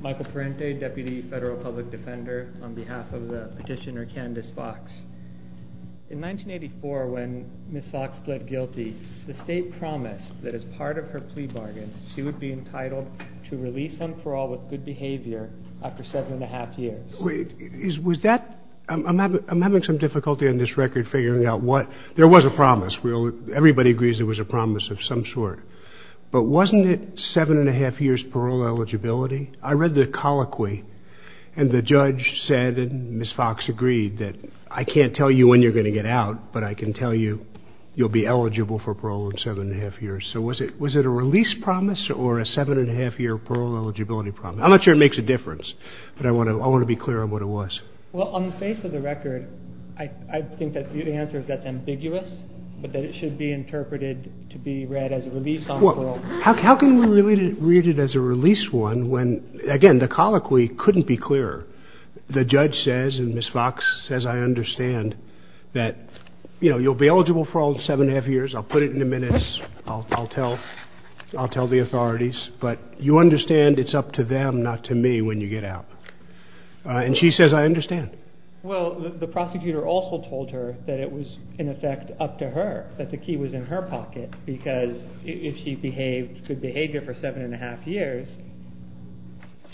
Michael Perrinte, Deputy Federal Public Defender, on behalf of Petitioner Candace Fox. In 1984, when Ms. Fox pled guilty, the state promised that as part of her plea bargain, she would be entitled to release on parole with good behavior after seven and a half years. I'm having some difficulty in this record figuring out what... There was a promise. Everybody agrees there was a promise of some sort. But wasn't it seven and a half years parole eligibility? I read the colloquy, and the judge said, and Ms. Fox agreed, that I can't tell you when you're going to get out, but I can tell you you'll be eligible for parole in seven and a half years. So was it a release promise or a seven and a half year parole eligibility promise? I'm not sure it makes a difference, but I want to be clear on what it was. Well, on the face of the record, I think that the answer is that's ambiguous, but that it should be interpreted to be read as a release on parole. How can we read it as a release one when, again, the colloquy couldn't be clearer? The judge says, and Ms. Fox says, I understand that, you know, you'll be eligible for all seven and a half years. I'll put it in the minutes. I'll tell the authorities. But you understand it's up to them, not to me, when you get out. And she says, I understand. Well, the prosecutor also told her that it was, in effect, up to her, that the key was in her pocket, because if she behaved good behavior for seven and a half years,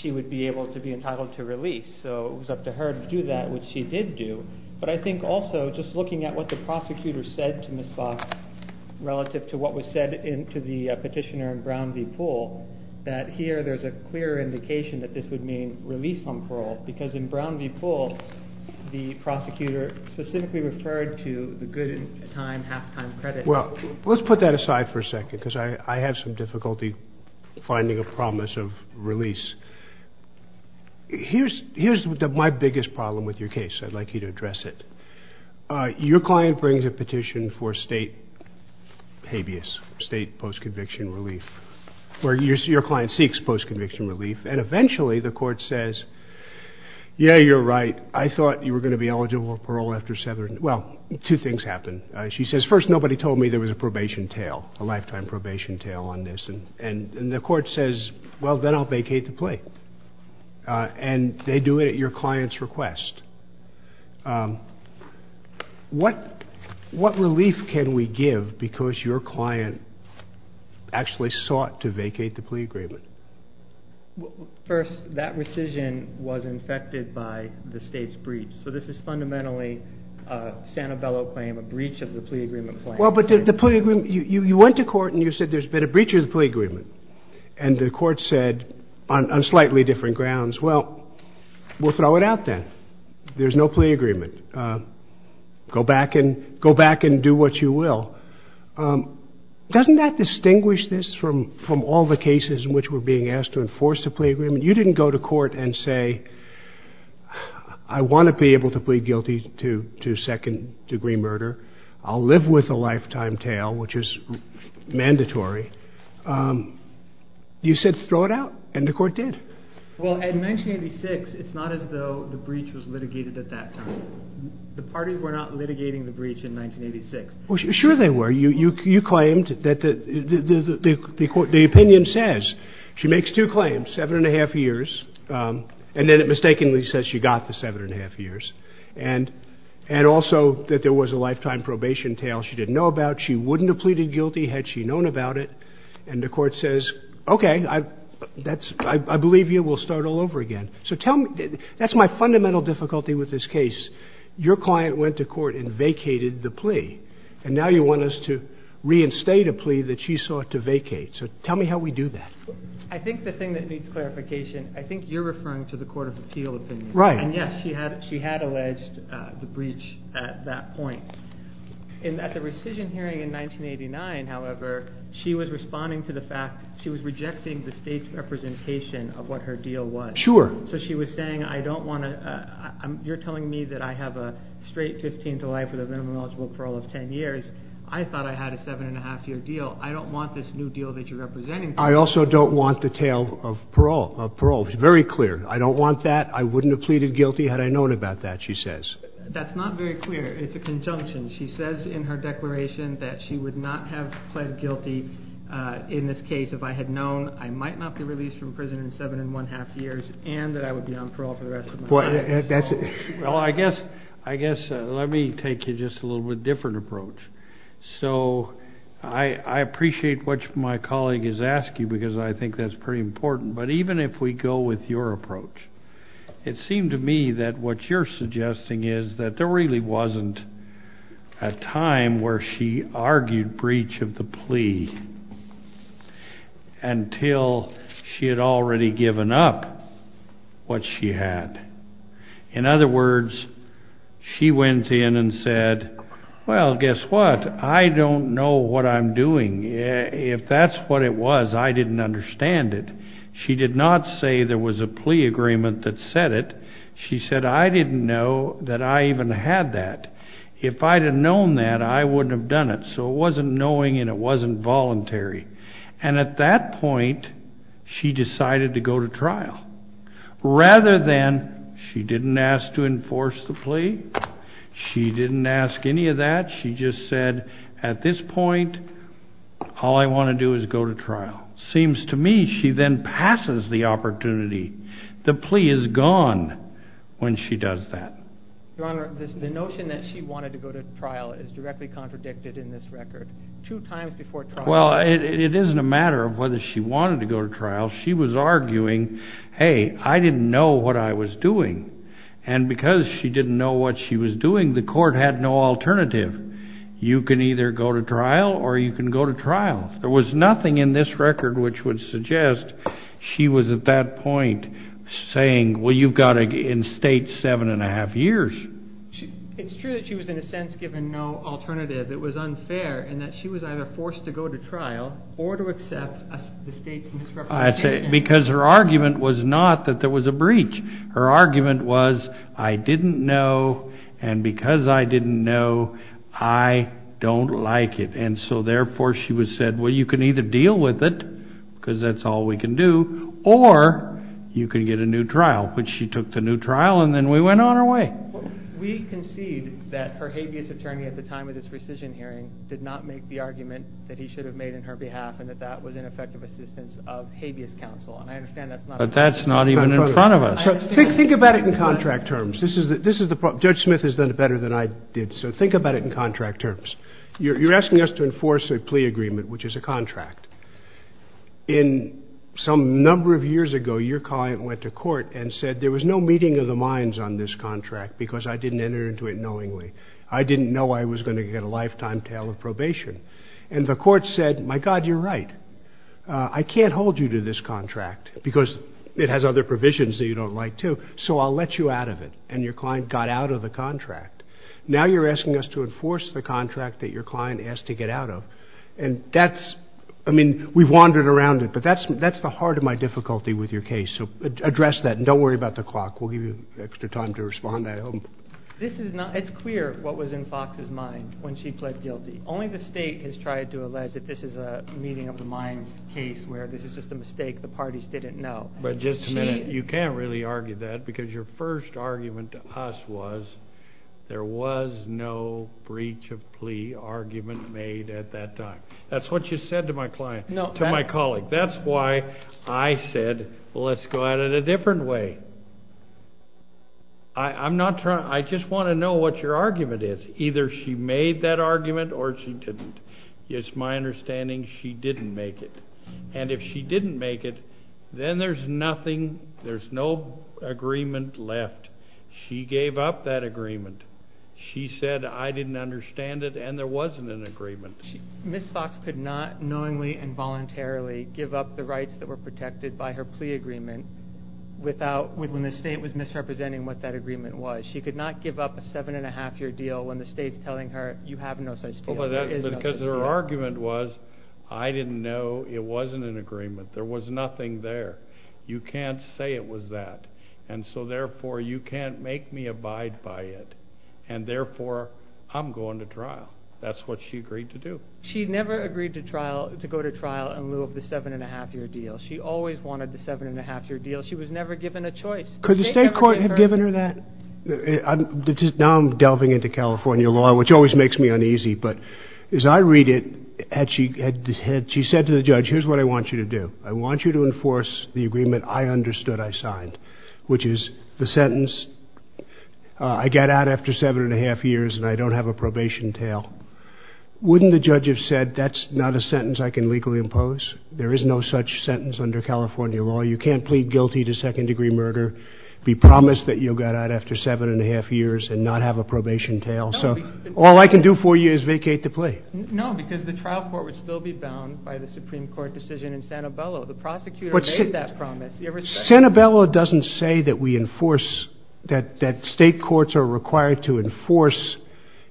she would be able to be entitled to release. So it was up to her to do that, which she did do. But I think also just looking at what the prosecutor said to Ms. Fox relative to what was said to the petitioner in Brown v. Pool, that here there's a clear indication that this would mean release on parole, because in Brown v. Pool, the prosecutor specifically referred to a good time, half-time credit. Well, let's put that aside for a second, because I have some difficulty finding a promise of release. Here's my biggest problem with your case. I'd like you to address it. Your client brings a petition for state habeas, state post-conviction relief, where your client seeks post-conviction relief. And eventually the court says, yeah, you're right. I thought you were going to be eligible for parole after seven. Well, two things happen. She says, first, nobody told me there was a probation tail, a lifetime probation tail on this. And the court says, well, then I'll vacate the plea. And they do it at your client's request. What relief can we give because your client actually sought to vacate the plea agreement? First, that rescission was infected by the state's breach. So this is fundamentally a Santabello claim, a breach of the plea agreement claim. Well, but the plea agreement, you went to court and you said there's been a breach of the plea agreement. And the court said on slightly different grounds, well, we'll throw it out then. There's no plea agreement. Go back and do what you will. Doesn't that distinguish this from all the cases in which we're being asked to enforce the plea agreement? You didn't go to court and say, I want to be able to plead guilty to second-degree murder. I'll live with a lifetime tail, which is mandatory. You said throw it out. And the court did. Well, in 1986, it's not as though the breach was litigated at that time. The parties were not litigating the breach in 1986. Well, sure they were. You claimed that the opinion says she makes two claims, seven and a half years. And then it mistakenly says she got the seven and a half years. And also that there was a lifetime probation tail she didn't know about. She wouldn't have pleaded guilty had she known about it. And the court says, okay, I believe you. We'll start all over again. So that's my fundamental difficulty with this case. Your client went to court and vacated the plea. And now you want us to reinstate a plea that she sought to vacate. So tell me how we do that. I think the thing that needs clarification, I think you're referring to the court of appeal opinion. Right. And, yes, she had alleged the breach at that point. And at the rescission hearing in 1989, however, she was responding to the fact she was rejecting the state's representation of what her deal was. Sure. So she was saying, I don't want to – you're telling me that I have a straight 15 July for the minimum eligible parole of 10 years. I thought I had a seven and a half year deal. I don't want this new deal that you're representing. I also don't want the tail of parole. It's very clear. I don't want that. I wouldn't have pleaded guilty had I known about that, she says. That's not very clear. It's a conjunction. She says in her declaration that she would not have pled guilty in this case if I had known I might not be released from prison in seven and one-half years and that I would be on parole for the rest of my life. Well, I guess let me take you just a little bit different approach. So I appreciate what my colleague is asking because I think that's pretty important. But even if we go with your approach, it seemed to me that what you're suggesting is that there really wasn't a time where she argued breach of the plea until she had already given up what she had. In other words, she went in and said, well, guess what? I don't know what I'm doing. If that's what it was, I didn't understand it. She did not say there was a plea agreement that said it. She said I didn't know that I even had that. If I had known that, I wouldn't have done it. So it wasn't knowing and it wasn't voluntary. And at that point, she decided to go to trial. Rather than she didn't ask to enforce the plea, she didn't ask any of that. She just said at this point, all I want to do is go to trial. Seems to me she then passes the opportunity. The plea is gone when she does that. Your Honor, the notion that she wanted to go to trial is directly contradicted in this record. Two times before trial. Well, it isn't a matter of whether she wanted to go to trial. She was arguing, hey, I didn't know what I was doing. And because she didn't know what she was doing, the court had no alternative. You can either go to trial or you can go to trial. There was nothing in this record which would suggest she was at that point saying, well, you've got in state seven and a half years. It's true that she was in a sense given no alternative. It was unfair in that she was either forced to go to trial or to accept the state's instruction. Because her argument was not that there was a breach. Her argument was, I didn't know, and because I didn't know, I don't like it. And so, therefore, she was said, well, you can either deal with it, because that's all we can do, or you can get a new trial. But she took the new trial and then we went on our way. We concede that her habeas attorney at the time of this rescission hearing did not make the argument that he should have made on her behalf and that that was ineffective assistance of habeas counsel. But that's not even in front of us. Think about it in contract terms. Judge Smith has done it better than I did. So think about it in contract terms. You're asking us to enforce a plea agreement, which is a contract. Some number of years ago, your client went to court and said there was no meeting of the minds on this contract, because I didn't enter into it knowingly. I didn't know I was going to get a lifetime tail of probation. And the court said, my God, you're right. I can't hold you to this contract, because it has other provisions that you don't like, too. So I'll let you out of it. And your client got out of the contract. Now you're asking us to enforce the contract that your client asked to get out of. And that's, I mean, we've wandered around it, but that's the heart of my difficulty with your case. So address that, and don't worry about the clock. We'll give you extra time to respond at home. This is not, it's clear what was in Fox's mind when she pled guilty. Only the state has tried to allege that this is a meeting of the minds case, where this is just a mistake the parties didn't know. But just to make, you can't really argue that, because your first argument to us was there was no breach of plea argument made at that time. That's what you said to my client, to my colleague. That's why I said, well, let's go at it a different way. I'm not trying, I just want to know what your argument is. Either she made that argument or she didn't. It's my understanding she didn't make it. And if she didn't make it, then there's nothing, there's no agreement left. She gave up that agreement. She said, I didn't understand it, and there wasn't an agreement. Ms. Fox could not knowingly and voluntarily give up the rights that were protected by her plea agreement without, when the state was misrepresenting what that agreement was. She could not give up a seven-and-a-half-year deal when the state's telling her, you have no such deal. Because her argument was, I didn't know it wasn't an agreement. There was nothing there. You can't say it was that. And so, therefore, you can't make me abide by it. And, therefore, I'm going to trial. That's what she agreed to do. She never agreed to go to trial in lieu of the seven-and-a-half-year deal. She always wanted the seven-and-a-half-year deal. She was never given a choice. Could the state court have given her that? Now I'm delving into California law, which always makes me uneasy. But as I read it, she said to the judge, here's what I want you to do. I want you to enforce the agreement I understood I signed, which is the sentence, I got out after seven-and-a-half years and I don't have a probation tail. Wouldn't the judge have said, that's not a sentence I can legally impose? There is no such sentence under California law. You can't plead guilty to second-degree murder, be promised that you got out after seven-and-a-half years and not have a probation tail. So all I can do for you is vacate the plea. No, because the trial court would still be bound by the Supreme Court decision in Sanabella. The prosecutor made that promise. Sanabella doesn't say that we enforce, that state courts are required to enforce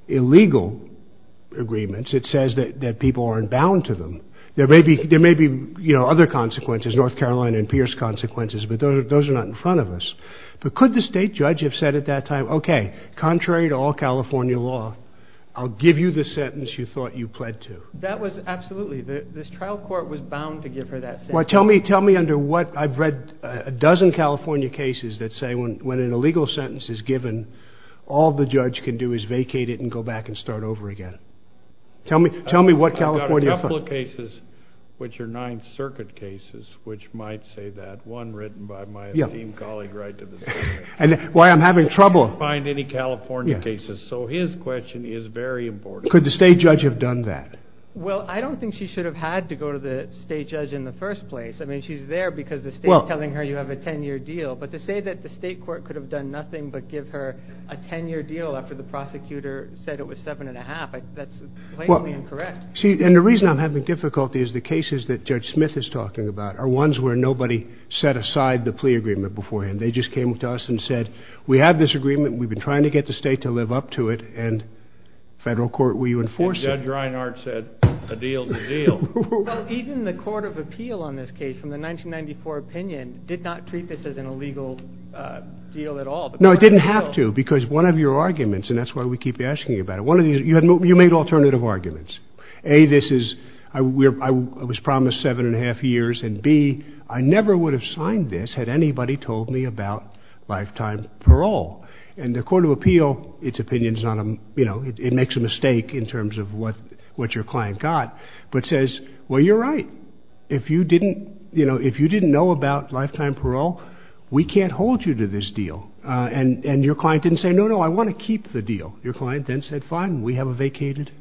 illegal agreements. It says that people aren't bound to them. There may be other consequences, North Carolina and Pierce consequences, but those are not in front of us. But could the state judge have said at that time, okay, contrary to all California law, I'll give you the sentence you thought you pled to. That was absolutely, this trial court was bound to give her that sentence. Tell me under what, I've read a dozen California cases that say when an illegal sentence is given, all the judge can do is vacate it and go back and start over again. Tell me what California... I've got a couple of cases which are Ninth Circuit cases which might say that. One written by my esteemed colleague right to the... And why I'm having trouble... ...find any California cases. So his question is very important. Could the state judge have done that? Well, I don't think she should have had to go to the state judge in the first place. I mean, she's there because the state's telling her you have a ten-year deal. But to say that the state court could have done nothing but give her a ten-year deal after the prosecutor said it was seven-and-a-half, that's blatantly incorrect. See, and the reason I'm having difficulty is the cases that Judge Smith is talking about are ones where nobody set aside the plea agreement beforehand. They just came to us and said, we have this agreement, we've been trying to get the state to live up to it, and federal court, will you enforce it? Judge Reinhart said, a deal's a deal. Even the Court of Appeal on this case from the 1994 opinion did not treat this as an illegal deal at all. No, it didn't have to, because one of your arguments, and that's why we keep asking you about it, you made alternative arguments. A, this is, I was promised seven-and-a-half years, and B, I never would have signed this had anybody told me about lifetime parole. And the Court of Appeal, its opinion, it makes a mistake in terms of what your client got, but says, well, you're right. If you didn't know about lifetime parole, we can't hold you to this deal. And your client didn't say, no, no, I want to keep the deal. Your client then said, fine, we have a vacated.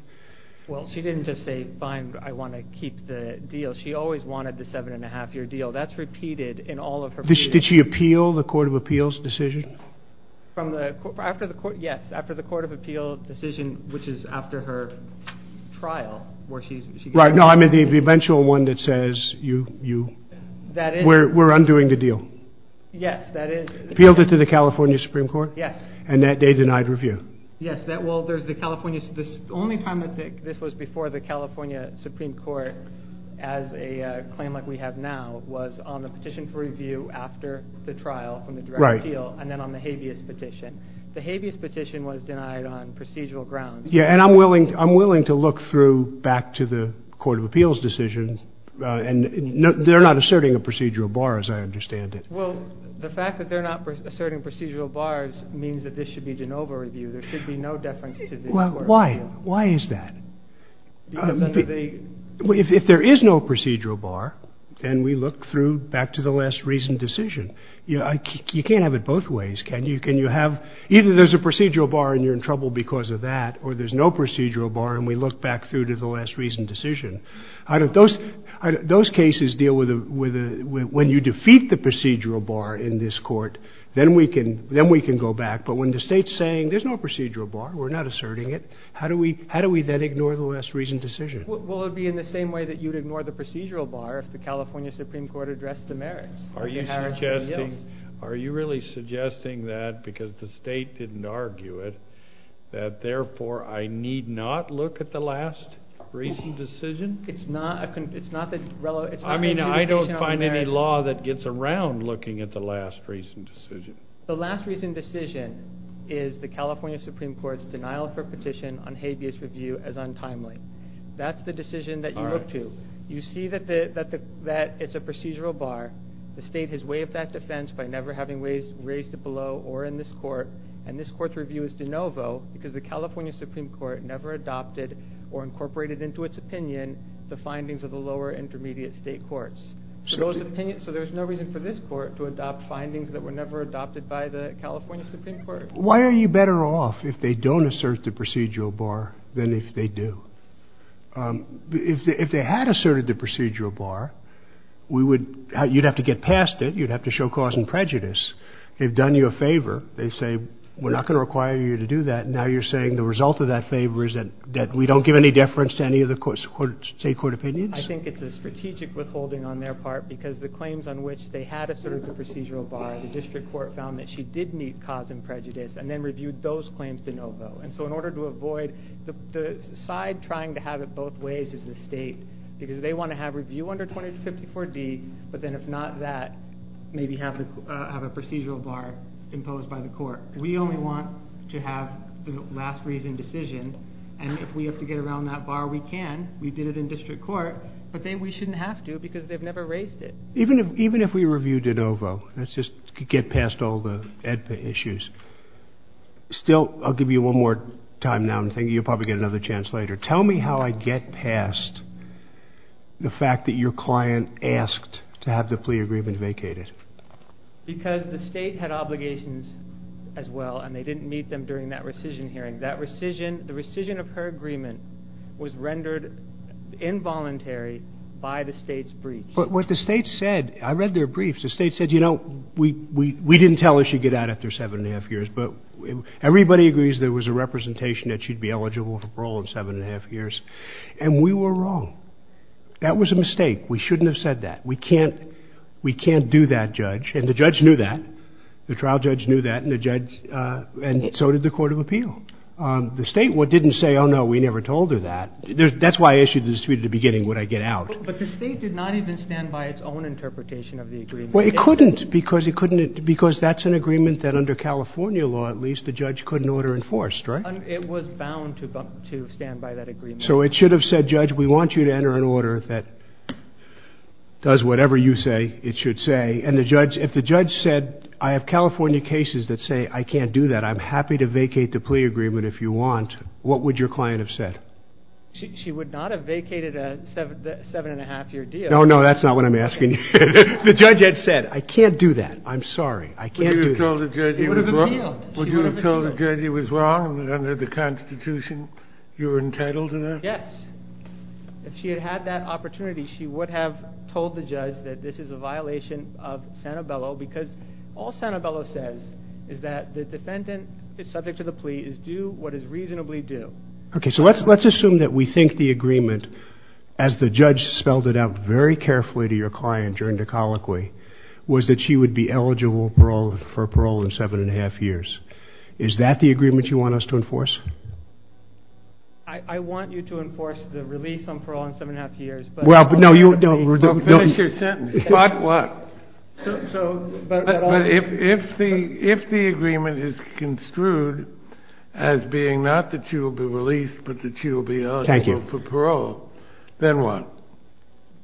Well, she didn't just say, fine, I want to keep the deal. She always wanted the seven-and-a-half-year deal. That's repeated in all of her plea agreements. Did she appeal the Court of Appeals decision? Yes, after the Court of Appeals decision, which is after her trial, where she's... Right, no, I mean the eventual one that says, That is... We're undoing the deal. Yes, that is... Appealed it to the California Supreme Court? Yes. And that day denied review? Yes, well, there's the California... The only time that this was before the California Supreme Court as a claim like we have now was on the petition for review after the trial from the Court of Appeals, and then on the habeas petition. The habeas petition was denied on procedural grounds. Yeah, and I'm willing to look through back to the Court of Appeals decision and they're not asserting a procedural bar, as I understand it. Well, the fact that they're not asserting procedural bars means that this should be de novo review. There should be no deferences in the Court of Appeals. Well, why? Why is that? If there is no procedural bar, then we look through back to the last reasoned decision. You can't have it both ways, can you? Can you have... Either there's a procedural bar and you're in trouble because of that, or there's no procedural bar and we look back through to the last reasoned decision. Those cases deal with... When you defeat the procedural bar in this Court, then we can go back. But when the State's saying, there's no procedural bar, we're not asserting it, how do we then ignore the last reasoned decision? Well, it would be in the same way that you'd ignore the procedural bar if the California Supreme Court addressed the merits. Are you suggesting... Are you really suggesting that, because the State didn't argue it, that therefore I need not look at the last reasoned decision? It's not... I mean, I don't find any law that gets around looking at the last reasoned decision. The last reasoned decision is the California Supreme Court's denial of her petition on habeas review as untimely. That's the decision that you look to. You see that it's a procedural bar, the State has waived that defense by never having raised it below or in this Court, and this Court's review is de novo because the California Supreme Court never adopted or incorporated into its opinion the findings of the lower intermediate State courts. So there's no reason for this Court to adopt findings that were never adopted by the California Supreme Court. Why are you better off if they don't assert the procedural bar than if they do? If they had asserted the procedural bar, you'd have to show cause and prejudice. They've done you a favor. They say, we're not going to require you to do that. Now you're saying the result of that favor is that we don't give any deference to any of the State court opinions? I think it's a strategic withholding on their part because the claims on which they had asserted the procedural bar, the district court found that she did meet cause and prejudice and then reviewed those claims de novo. And so in order to avoid... The side trying to have it both ways is the State because they want to have review under 254D, but then if not that, maybe have a procedural bar imposed by the court. We only want to have the last reason decision. And if we have to get around that bar, we can. We did it in district court, but then we shouldn't have to because they've never raised it. Even if we reviewed de novo, let's just get past all the EDPA issues. Still, I'll give you one more time now. I'm thinking you'll probably get another chance later. Tell me how I get past the fact that your client asked to have the plea agreement vacated. Because the State had obligations as well and they didn't meet them during that rescission hearing. The rescission of her agreement was rendered involuntary by the State's brief. But what the State said... I read their briefs. The State said, you know, we didn't tell her she'd get out after 7 1⁄2 years, but everybody agrees there was a representation that she'd be eligible for parole in 7 1⁄2 years. And we were wrong. That was a mistake. We shouldn't have said that. We can't do that, Judge. And the Judge knew that. The trial Judge knew that. And so did the Court of Appeal. The State didn't say, oh, no, we never told her that. That's why I issued the dispute at the beginning, would I get out? But the State did not even stand by its own interpretation of the agreement. Well, it couldn't, because that's an agreement that under California law, at least, the Judge couldn't order enforced, right? It was bound to stand by that agreement. So it should have said, Judge, we want you to enter an order that does whatever you say it should say. And if the Judge said, I have California cases that say I can't do that, I'm happy to vacate the plea agreement if you want, what would your client have said? She would not have vacated a 7 1⁄2-year deal. Oh, no, that's not what I'm asking. The Judge had said, I can't do that. I'm sorry. I can't do that. Would you have told the Judge he was wrong? Under the Constitution, you were entitled to that? Yes. If she had had that opportunity, she would have told the Judge that this is a violation of Sanabella, because all Sanabella says is that the defendant is subject to the plea, is due what is reasonably due. Okay, so let's assume that we think the agreement, as the Judge spelled it out very carefully to your client during the colloquy, was that she would be eligible for parole in 7 1⁄2 years. Is that the agreement you want us to enforce? I want you to enforce the release on parole in 7 1⁄2 years, but... Well, no, you don't... Finish your sentence. But what? So... But if the agreement is construed as being not that she will be released, but that she will be eligible for parole... Thank you. ...then what?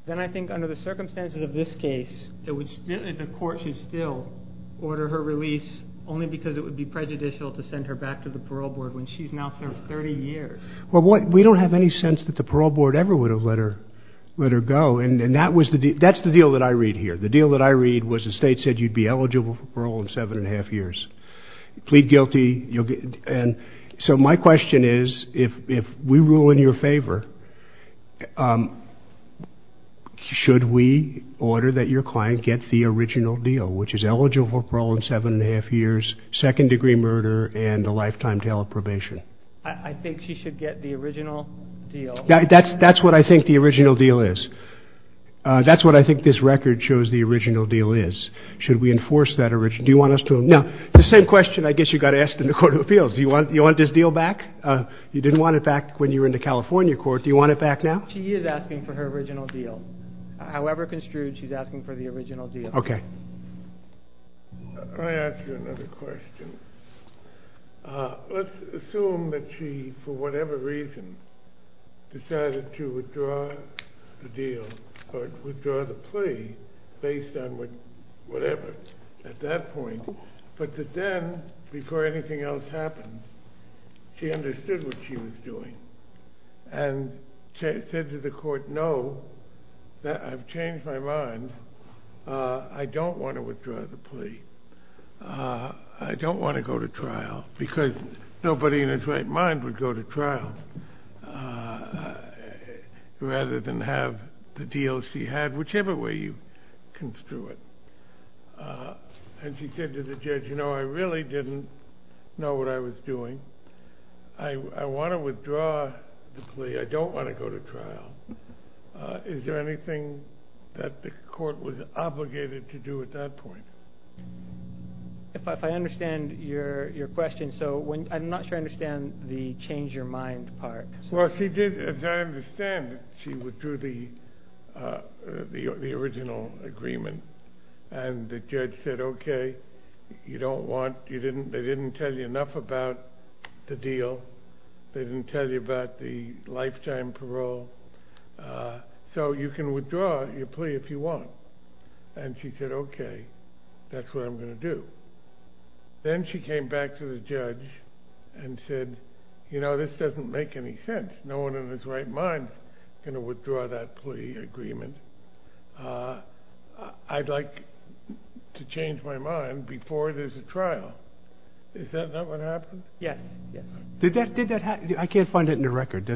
Then I think under the circumstances of this case, the court should still order her release only because it would be prejudicial to send her back to the parole board when she's now for 30 years. Well, we don't have any sense that the parole board ever would have let her go, and that's the deal that I read here. The deal that I read was the State said you'd be eligible for parole in 7 1⁄2 years. Plead guilty, you'll be... And so my question is, if we rule in your favor, should we order that your client get the original deal, which is eligible for parole in 7 1⁄2 years, second-degree murder, and a lifetime jail probation? I think she should get the original deal. That's what I think the original deal is. That's what I think this record shows the original deal is. Should we enforce that original... Do you want us to... Now, the same question I guess you got asked in the Court of Appeals. Do you want this deal back? You didn't want it back when you were in the California court. Do you want it back now? She is asking for her original deal. However construed, she's asking for the original deal. Okay. Can I ask you another question? Let's assume that she, for whatever reason, decided to withdraw the deal, or withdraw the plea based on whatever at that point, but that then, before anything else happened, and said to the court, no, I've changed my mind. I don't want to withdraw the plea. I don't want to go to trial because nobody in his right mind would go to trial rather than have the deal she had, whichever way you construe it. And she said to the judge, no, I really didn't know what I was doing. I want to withdraw the plea. I don't want to go to trial. Is there anything that the court was obligated to do at that point? If I understand your question, so I'm not sure I understand the change your mind part. Well, she did, as I understand it, she withdrew the original agreement, and the judge said, okay, you don't want, they didn't tell you enough about the deal. They didn't tell you about the lifetime parole. So you can withdraw your plea if you want. And she said, okay, that's what I'm going to do. Then she came back to the judge and said, you know, this doesn't make any sense. No one in his right mind is going to withdraw that plea agreement. I'd like to change my mind before there's a trial. Is that what happened? Yes. Did that happen? I can't find it in the record.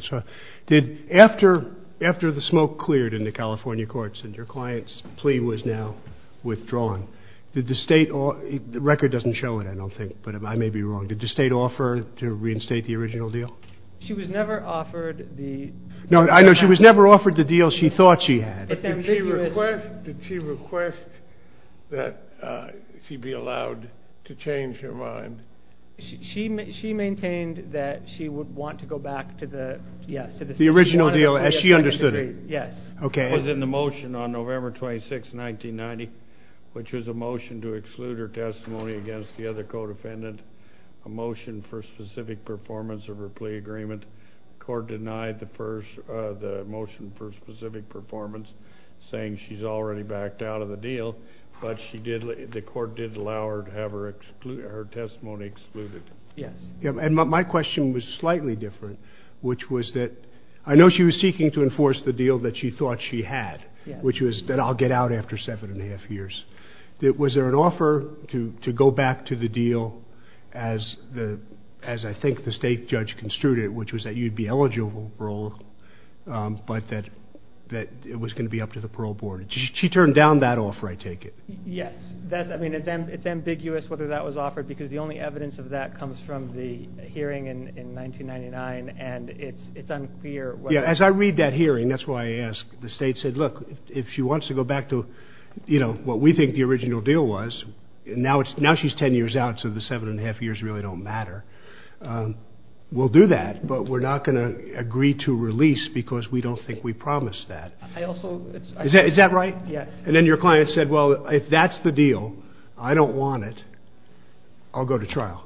After the smoke cleared in the California courts and your client's plea was now withdrawn, did the state, the record doesn't show it, I don't think, but I may be wrong. Did the state offer to reinstate the original deal? She was never offered the... No, I know. She was never offered the deal she thought she had. Did she request that she be allowed to change her mind? She maintained that she would want to go back to the... The original deal as she understood it. Yes. Okay. It was in the motion on November 26, 1990, which was a motion to exclude her testimony against the other codependent, a motion for specific performance of her plea agreement. The court denied the motion for specific performance, saying she's already backed out of the deal, but the court did allow her to have her testimony excluded. Yes. And my question was slightly different, which was that I know she was seeking to enforce the deal that she thought she had, which was that I'll get out after seven and a half years. Was there an offer to go back to the deal as I think the state judge construed it, which was that you'd be eligible, but that it was going to be up to the parole board? She turned down that offer, I take it. Yes. I mean, it's ambiguous whether that was offered because the only evidence of that comes from the hearing in 1999, and it's unclear whether... Yeah, as I read that hearing, that's why I asked. The state said, look, if she wants to go back to, you know, what we think the original deal was, and now she's ten years out so the seven and a half years really don't matter, we'll do that, but we're not going to agree to release because we don't think we promised that. I also... Is that right? Yes. And then your client said, well, if that's the deal, I don't want it, I'll go to trial.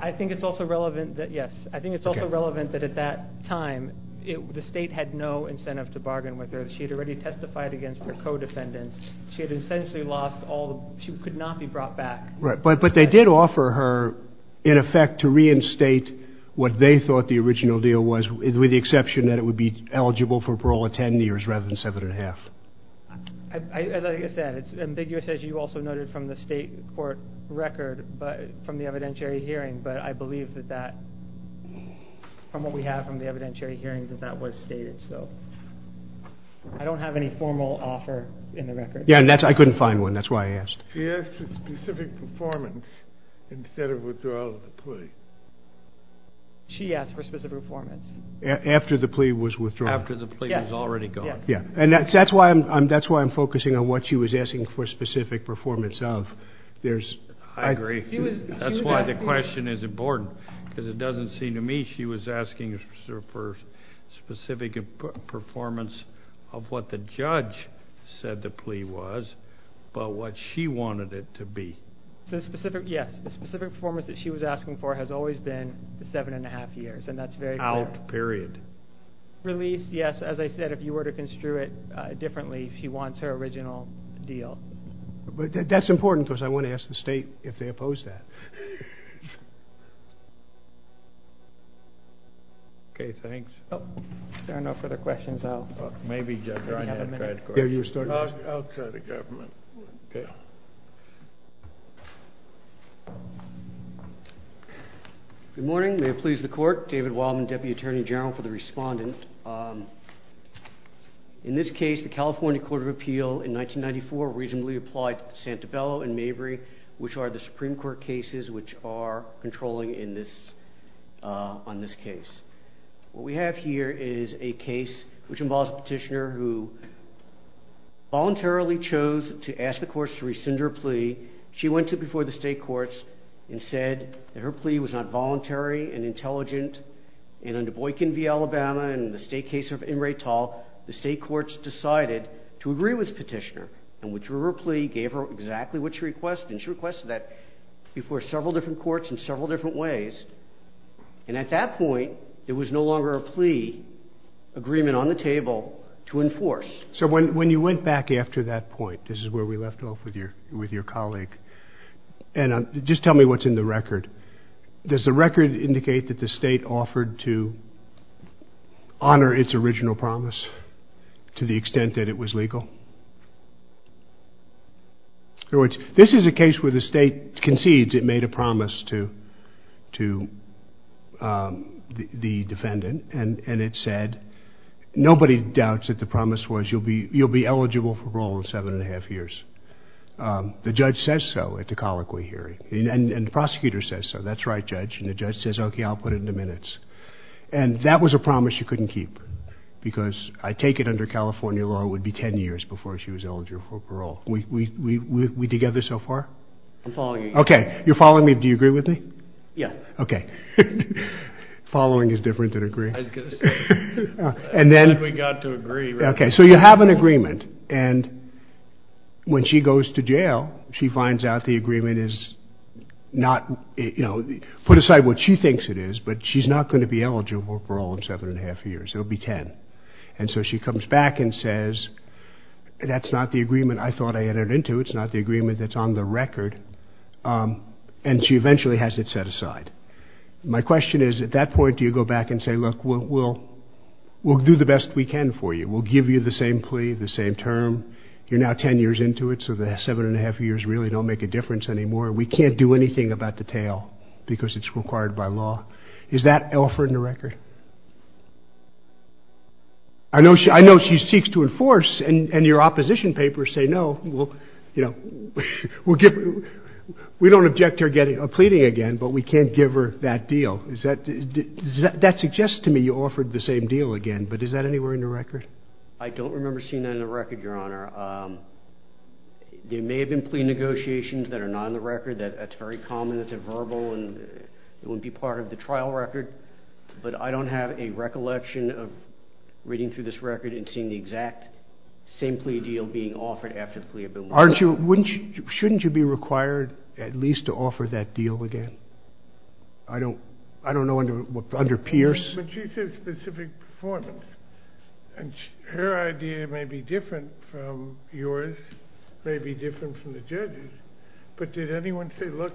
I think it's also relevant that, yes, I think it's also relevant that at that time the state had no incentive to bargain with her. She had already testified against her co-defendants. She had essentially lost all... she could not be brought back. Right, but they did offer her, in effect, to reinstate what they thought the original deal was, with the exception that it would be eligible for parole at ten years rather than seven and a half. Like I said, it's ambiguous, as you also noted, from the state court record, from the evidentiary hearing, but I believe that that... from what we have from the evidentiary hearings, that that was stated, so... I don't have any formal offer in the record. Yeah, and that's... I couldn't find one. That's why I asked. She asked for specific performance instead of withdrawal of the plea. She asked for specific performance. After the plea was withdrawn. After the plea was already gone. Yeah, and that's why I'm focusing on what she was asking for specific performance of. There's... I agree. That's why the question is important, because it doesn't seem to me she was asking for specific performance of what the judge said the plea was, but what she wanted it to be. So specific, yes. The specific performance that she was asking for has always been the seven and a half years, and that's very... Out, period. Release, yes. As I said, if you were to construe it differently, she wants her original deal. But that's important, because I want to ask the state if they oppose that. Okay, thanks. Oh, if there are no further questions, I'll... Good morning. May it please the court. David Wildman, Deputy Attorney General for the respondent. In this case, the California Court of Appeal in 1994 reasonably applied Santabello and Mabry, which are the Supreme Court cases which are controlling on this case. What we have here is a case which involves a petitioner who voluntarily chose to ask the courts to rescind her plea. She went to before the state courts and said that her plea was not voluntary and intelligent, and under Boykin v. Alabama and in the state case of Imre Tall, the state courts decided to agree with the petitioner and withdrew her plea, gave her exactly what she requested, and she requested that before several different courts in several different ways. And at that point, there was no longer a plea agreement on the table to enforce. So when you went back after that point, this is where we left off with your colleague, and just tell me what's in the record. Does the record indicate that the state offered to honor its original promise to the extent that it was legal? In other words, this is a case where the state concedes it made a promise to the defendant, and it said nobody doubts that the promise was you'll be eligible for parole in seven and a half years. The judge says so at the colloquy hearing, and the prosecutor says so. That's right, Judge, and the judge says, okay, I'll put it in the minutes. And that was a promise you couldn't keep because I take it under California law it would be 10 years before she was eligible for parole. Are we together so far? I'm following you. Okay, you're following me. Do you agree with me? Yes. Okay. Following is different than agreeing. I think we got to agree. Okay, so you have an agreement, and when she goes to jail, she finds out the agreement is not, you know, put aside what she thinks it is, but she's not going to be eligible for parole in seven and a half years. It will be 10. And so she comes back and says, that's not the agreement I thought I entered into. It's not the agreement that's on the record, and she eventually has it set aside. My question is, at that point, do you go back and say, look, we'll do the best we can for you. We'll give you the same plea, the same term. You're now 10 years into it, so the seven and a half years really don't make a difference anymore. We can't do anything about the tail because it's required by law. Is that Elford in the record? I know she seeks to enforce, and your opposition papers say no. We don't object to her pleading again, but we can't give her that deal. That suggests to me you offered the same deal again, but is that anywhere in the record? I don't remember seeing that in the record, Your Honor. There may have been plea negotiations that are not on the record. That's very common. It's a verbal, and it would be part of the trial record. But I don't have a recollection of reading through this record and seeing the exact same plea deal being offered after the plea agreement. Shouldn't you be required at least to offer that deal again? I don't know under Pierce. But she said specific performance, and her idea may be different from yours, may be different from the judge's. But did anyone say, look,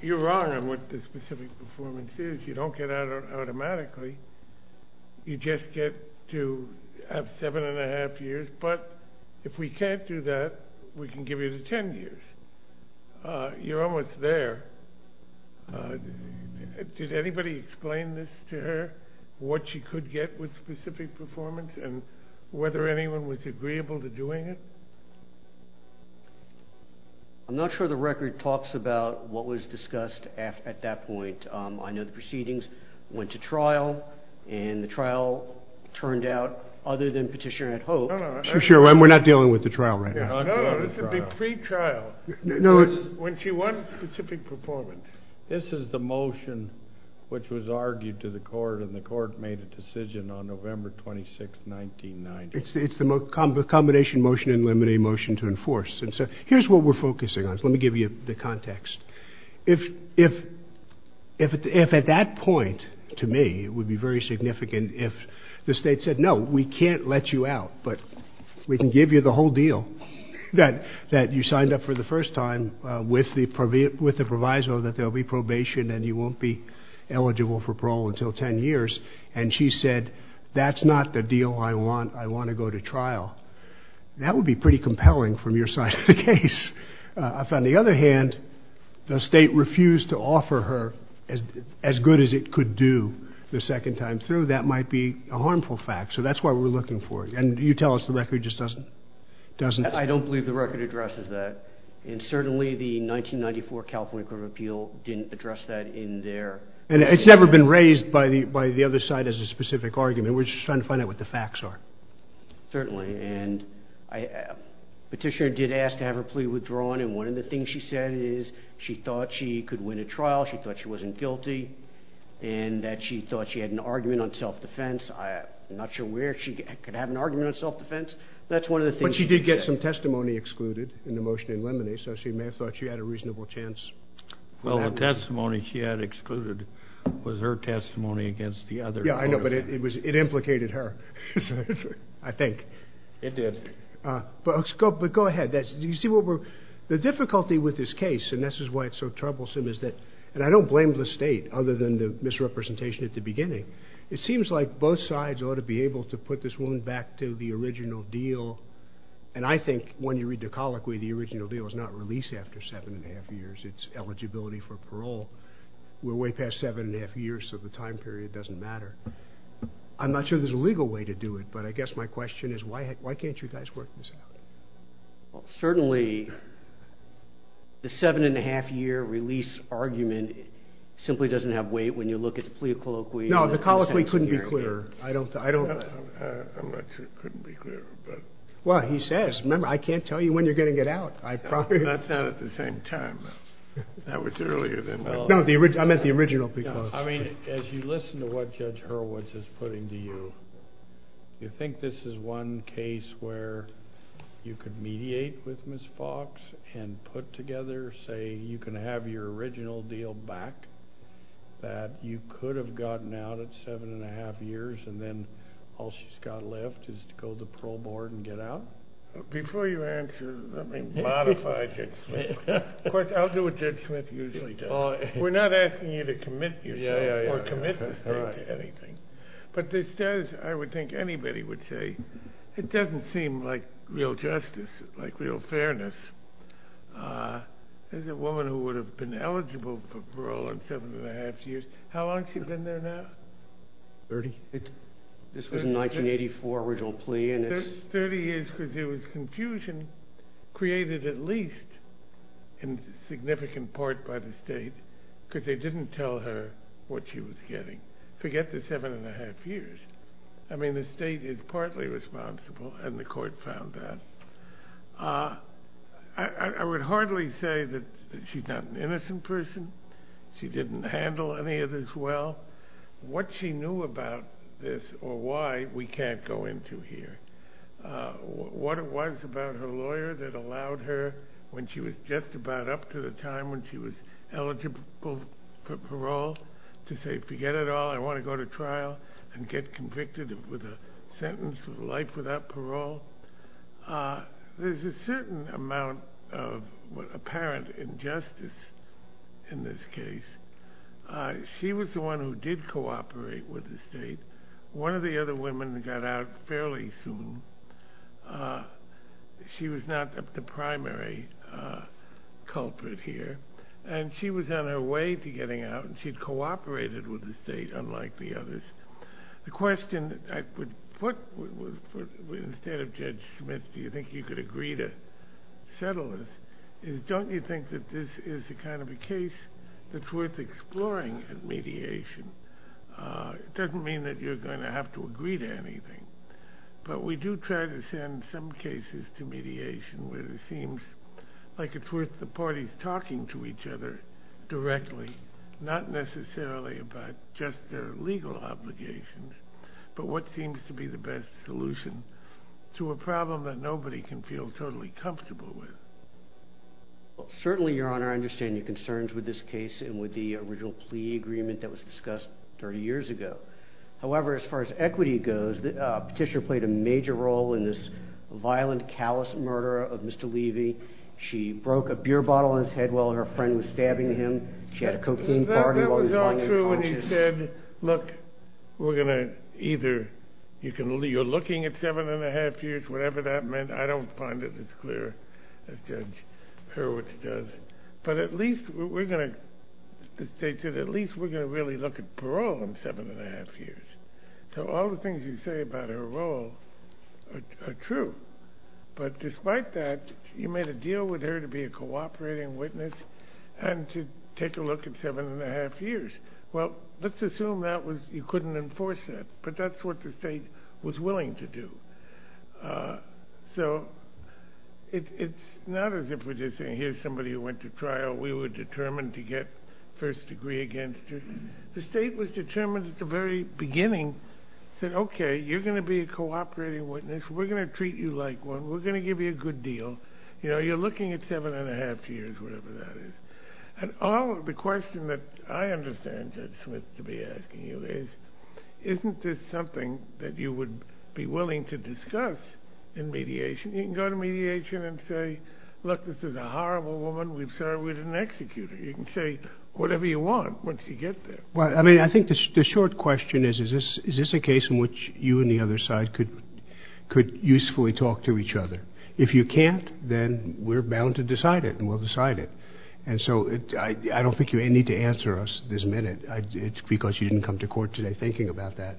you're wrong on what the specific performance is. You don't get out automatically. You just get to have seven and a half years. But if we can't do that, we can give you the ten years. You're almost there. Did anybody explain this to her, what she could get with specific performance, and whether anyone was agreeable to doing it? I'm not sure the record talks about what was discussed at that point. I know the proceedings went to trial, and the trial turned out, other than Petitioner had hoped. We're not dealing with the trial right now. No, it's a plea trial. When she wants specific performance. This is the motion which was argued to the court, and the court made a decision on November 26, 1990. It's the combination motion and limiting motion to enforce. Here's what we're focusing on. Let me give you the context. If at that point, to me, it would be very significant if the state said, no, we can't let you out, but we can give you the whole deal, that you signed up for the first time with the proviso that there will be probation and you won't be eligible for parole until ten years, and she said, that's not the deal I want. I want to go to trial. That would be pretty compelling from your side of the case. On the other hand, the state refused to offer her as good as it could do the second time through. That might be a harmful fact. So that's why we're looking for it. And you tell us the record just doesn't. I don't believe the record addresses that. And certainly the 1994 California Court of Appeal didn't address that in there. And it's never been raised by the other side as a specific argument. We're just trying to find out what the facts are. Certainly. Petitioner did ask to have her plea withdrawn, and one of the things she said is she thought she could win a trial, she thought she wasn't guilty, and that she thought she had an argument on self-defense. I'm not sure where she could have an argument on self-defense. That's one of the things she said. But she did get some testimony excluded in the motion in limine, so she may have thought she had a reasonable chance. Well, the testimony she had excluded was her testimony against the other. Yeah, I know, but it implicated her, I think. It did. But go ahead. The difficulty with this case, and this is why it's so troublesome, is that I don't blame the state other than the misrepresentation at the beginning. It seems like both sides ought to be able to put this woman back to the original deal. And I think when you read the colloquy, the original deal is not release after seven and a half years, it's eligibility for parole. We're way past seven and a half years, so the time period doesn't matter. I'm not sure there's a legal way to do it, but I guess my question is why can't you guys work this out? Certainly, the seven and a half year release argument simply doesn't have weight when you look at the plea colloquy. No, the colloquy couldn't be clearer. I'm not sure it couldn't be clearer. Well, he says, remember, I can't tell you when you're going to get out. That's not at the same time. That was earlier than that. No, I meant the original plea clause. I mean, as you listen to what Judge Hurwitz is putting to you, you think this is one case where you could mediate with Ms. Fox and put together, say, you can have your original deal back, that you could have gotten out at seven and a half years, and then all she's got left is to go to the parole board and get out? Before you answer, let me modify it. Of course, I'll do what Judge Smith usually does. We're not asking you to commit yourself or commit to anything. But this does, I would think anybody would say, it doesn't seem like real justice, like real fairness. As a woman who would have been eligible for parole in seven and a half years, how long has she been there now? Thirty years. This was a 1984 original plea. Thirty years because there was confusion created at least in significant part by the state because they didn't tell her what she was getting. Forget the seven and a half years. I mean, the state is partly responsible, and the court found that. I would heartily say that she's not an innocent person. She didn't handle any of this well. What she knew about this or why, we can't go into here. What it was about her lawyer that allowed her when she was just about up to the time when she was eligible for parole to say, forget it all, I want to go to trial and get convicted with a sentence for the life without parole. There's a certain amount of apparent injustice in this case. She was the one who did cooperate with the state. One of the other women got out fairly soon. She was not the primary culprit here, and she was on her way to getting out, and she'd cooperated with the state unlike the others. The question, instead of Judge Smith, do you think you could agree to settle this, is don't you think that this is a kind of a case that's worth exploring at mediation? It doesn't mean that you're going to have to agree to anything, but we do try to send some cases to mediation where it seems like it's worth the parties talking to each other directly, not necessarily about just their legal obligations, but what seems to be the best solution to a problem that nobody can feel totally comfortable with. Certainly, Your Honor, I understand your concerns with this case and with the original plea agreement that was discussed 30 years ago. However, as far as equity goes, Petitioner played a major role in this violent, callous murder of Mr. Levy. She broke a beer bottle on his head while her friend was stabbing him. That was all true when he said, look, we're going to either – you're looking at seven and a half years, whatever that meant. I don't find it as clear as Judge Hurwitz does, but at least we're going to really look at parole in seven and a half years. So all the things you say about her role are true, but despite that, you made a deal with her to be a cooperating witness and to take a look at seven and a half years. Well, let's assume that you couldn't enforce that, but that's what the state was willing to do. So it's not as if we're just saying, here's somebody who went to trial. We were determined to get first degree against her. The state was determined at the very beginning that, okay, you're going to be a cooperating witness. We're going to treat you like one. We're going to give you a good deal. You know, you're looking at seven and a half years, whatever that is. And all of the questions that I understand Judge Smith to be asking you is, isn't this something that you would be willing to discuss in mediation? You can go to mediation and say, look, this is a horrible woman. We're sorry we didn't execute her. You can say whatever you want once you get there. Well, I mean, I think the short question is, is this a case in which you and the other side could usefully talk to each other? If you can't, then we're bound to decide it, and we'll decide it. And so I don't think you need to answer us this minute. It's because you didn't come to court today thinking about that.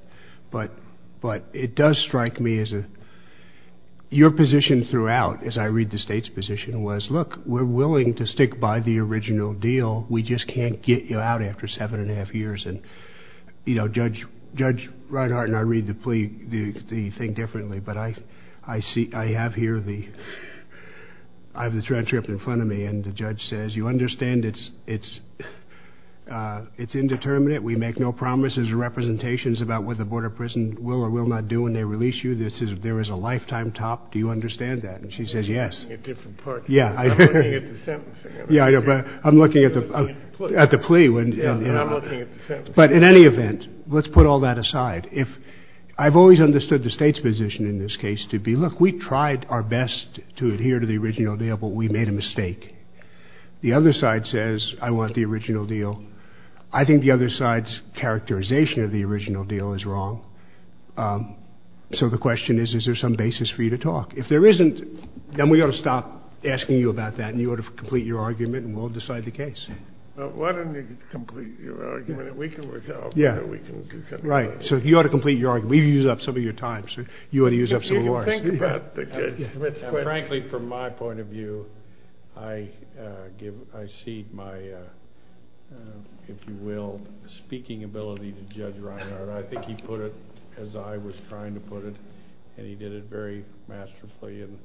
But it does strike me as a – your position throughout, as I read the state's position, was, look, we're willing to stick by the original deal. We just can't get you out after seven and a half years. And, you know, Judge Reinhart and I read the plea – the thing differently, but I see – I have here the – I have the transcript in front of me, and the judge says, you understand it's indeterminate. We make no promises or representations about what the Board of Prisons will or will not do when they release you. This is – there is a lifetime top. Do you understand that? And she says yes. It's a different part. Yeah. I'm looking at the sentence. Yeah, but I'm looking at the – at the plea. I'm looking at the sentence. But in any event, let's put all that aside. If – I've always understood the state's position in this case to be, look, we tried our best to adhere to the original deal, but we made a mistake. The other side says I want the original deal. I think the other side's characterization of the original deal is wrong. So the question is, is there some basis for you to talk? If there isn't, then we ought to stop asking you about that, and you ought to complete your argument, and we'll decide the case. Why don't you complete your argument, and we can work it out. Yeah. Right. So you ought to complete your argument. We've used up some of your time, so you ought to use up some of ours. Frankly, from my point of view, I give – I cede my, if you will, speaking ability to Judge Reiner. I think he put it as I was trying to put it, and he did it very masterfully, and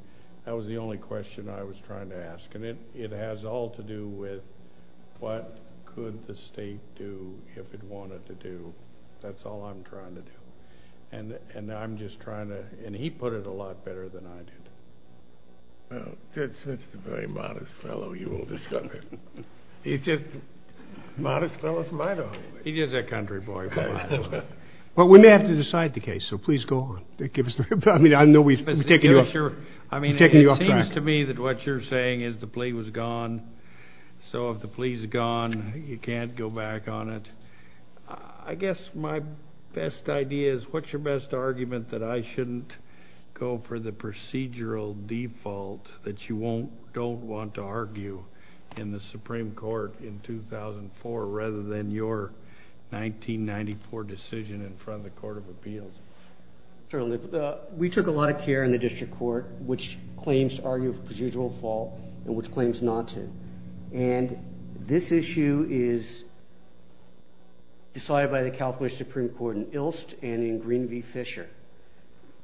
that was the only question I was trying to ask. And it has all to do with what could the state do if it wanted to do. That's all I'm trying to do. And I'm just trying to – and he put it a lot better than I did. Well, Judge is a very modest fellow, you will discover. He's just – Modest fellow is my dog. He is a country boy. Well, we may have to decide the case, so please go – I mean, I know we've been taking you off track. It seems to me that what you're saying is the plea was gone, so if the plea's gone, you can't go back on it. I guess my best idea is what's your best argument that I shouldn't go for the procedural default that you don't want to argue in the Supreme Court in 2004 rather than your 1994 decision in front of the Court of Appeals? Certainly. We took a lot of care in the district court which claims to argue for procedural default and which claims not to. And this issue is decided by the California Supreme Court in Ilst and in Green v. Fisher.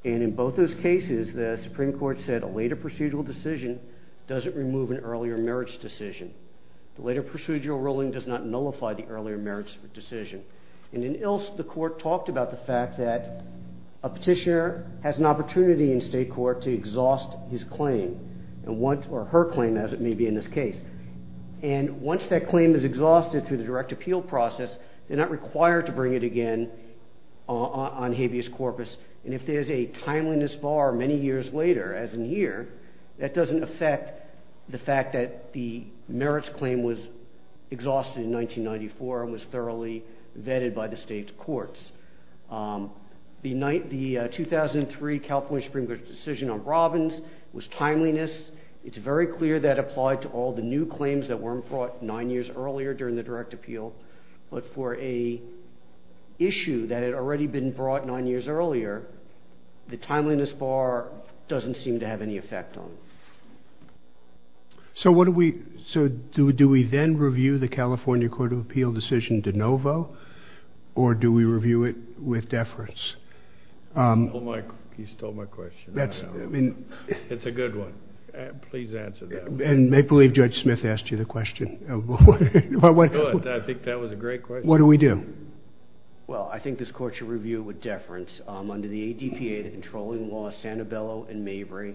And in both those cases, the Supreme Court said a later procedural decision doesn't remove an earlier merits decision. The later procedural ruling does not nullify the earlier merits decision. And in Ilst, the court talked about the fact that a petitioner has an opportunity in state court to exhaust his claim or her claim, as it may be in this case. And once that claim is exhausted through the direct appeal process, they're not required to bring it again on habeas corpus. And if there's a timeliness bar many years later, as in here, that doesn't affect the fact that the merits claim was exhausted in 1994 and was thoroughly vetted by the state courts. The 2003 California Supreme Court decision on Robbins was timeliness. It's very clear that applied to all the new claims that weren't brought nine years earlier during the direct appeal. But for an issue that had already been brought nine years earlier, the timeliness bar doesn't seem to have any effect on it. So what do we do? Do we then review the California Court of Appeal decision de novo, or do we review it with deference? He stole my question. It's a good one. Please answer that. And make believe Judge Smith asked you the question. I think that was a great question. What do we do? Well, I think this court should review it with deference. Under the ADPA, the controlling law, Santabello and Mabry,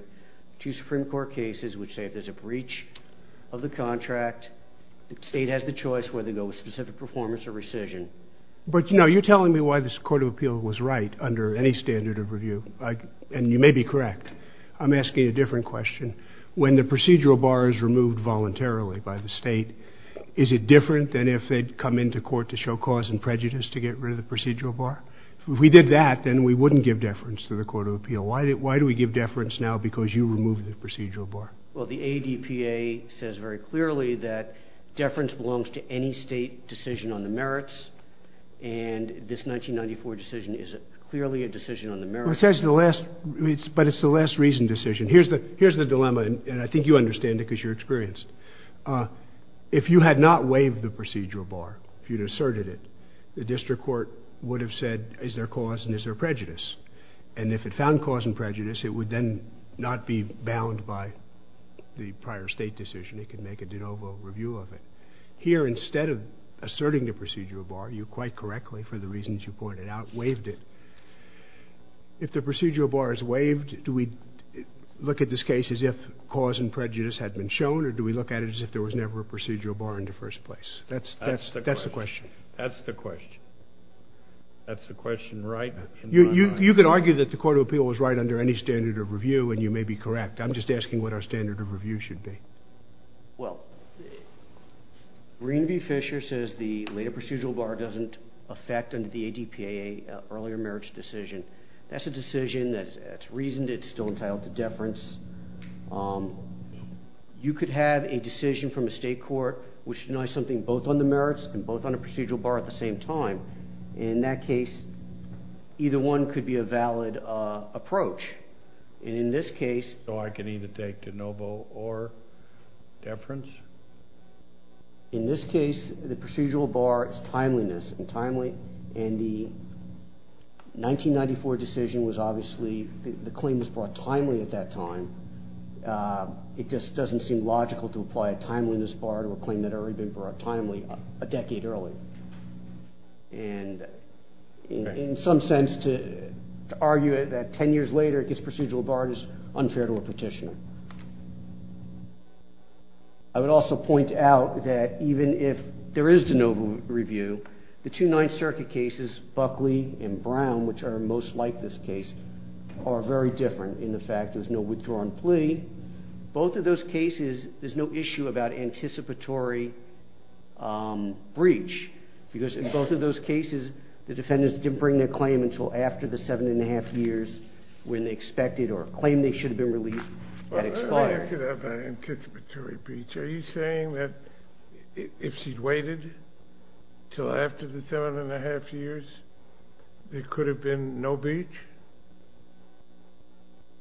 two Supreme Court cases which say there's a breach of the contract. The state has the choice whether to go with specific performance or rescission. But, no, you're telling me why this Court of Appeal was right under any standard of review. And you may be correct. I'm asking a different question. When the procedural bar is removed voluntarily by the state, is it different than if it had come into court to show cause and prejudice to get rid of the procedural bar? If we did that, then we wouldn't give deference to the Court of Appeal. Why do we give deference now because you removed the procedural bar? Well, the ADPA says very clearly that deference belongs to any state decision on the merits, and this 1994 decision is clearly a decision on the merits. But it's the less reasoned decision. Here's the dilemma, and I think you understand it because you're experienced. If you had not waived the procedural bar, if you had asserted it, the district court would have said, is there cause and is there prejudice? And if it found cause and prejudice, it would then not be bound by the prior state decision. It could make a de novo review of it. Here, instead of asserting the procedural bar, you quite correctly, for the reasons you pointed out, waived it. If the procedural bar is waived, do we look at this case as if cause and prejudice had been shown, or do we look at it as if there was never a procedural bar in the first place? That's the question. That's the question. That's the question, right? You could argue that the Court of Appeal was right under any standard of review, and you may be correct. I'm just asking what our standard of review should be. Well, Marina B. Fisher says the later procedural bar doesn't affect under the ADPA earlier merits decision. That's a decision that's reasoned. It's still entitled to deference. You could have a decision from a state court which denies something both on the merits and both on the procedural bar at the same time. In that case, either one could be a valid approach. In this case... So I can either take de novo or deference? In this case, the procedural bar is timeliness and timely, and the 1994 decision was obviously the claim was brought timely at that time. It just doesn't seem logical to apply a timeliness bar to a claim that already been brought timely a decade earlier. And in some sense to argue that 10 years later this procedural bar is unfair to a petitioner. I would also point out that even if there is de novo review, the two Ninth Circuit cases, Buckley and Brown, which are most like this case, are very different in the fact there's no withdrawal plea. Both of those cases, there's no issue about anticipatory breach because in both of those cases, the defendants didn't bring their claim until after the 7 1⁄2 years when they expected or claimed they should have been released. I could have an anticipatory breach. Are you saying that if she'd waited until after the 7 1⁄2 years, there could have been no breach?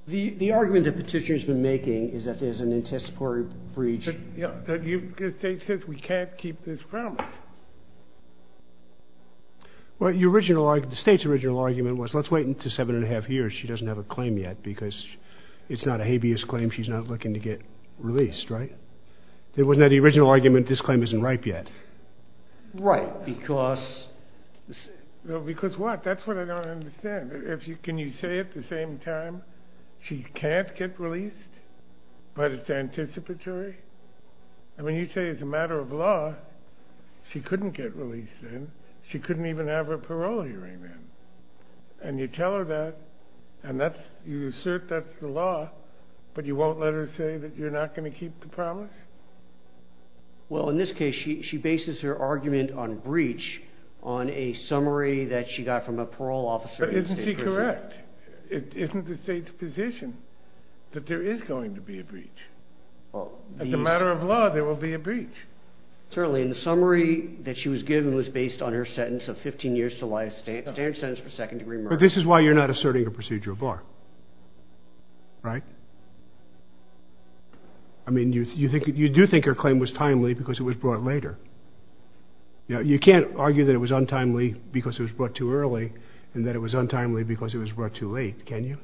The argument the petitioner has been making is that there's an anticipatory breach. Yeah, but you can't keep this promise. Well, the state's original argument was, let's wait until 7 1⁄2 years, she doesn't have a claim yet because it's not a habeas claim, she's not looking to get released, right? It wasn't the original argument, this claim isn't ripe yet. Right, because... Because what? That's what I don't understand. Can you say at the same time, she can't get released, but it's anticipatory? I mean, you say it's a matter of law, she couldn't get released then. She couldn't even have her parole hearing then. And you tell her that, and you assert that's the law, but you won't let her say that you're not going to keep the promise? Well, in this case, she bases her argument on breach on a summary that she got from a parole officer... But isn't she correct? It isn't the state's position that there is going to be a breach. As a matter of law, there will be a breach. Certainly, and the summary that she was given was based on her sentence of 15 years to life, standard sentence for second degree murder. But this is why you're not asserting a procedural bar, right? I mean, you do think her claim was timely because it was brought later. You can't argue that it was untimely because it was brought too early and that it was untimely because it was brought too late, can you?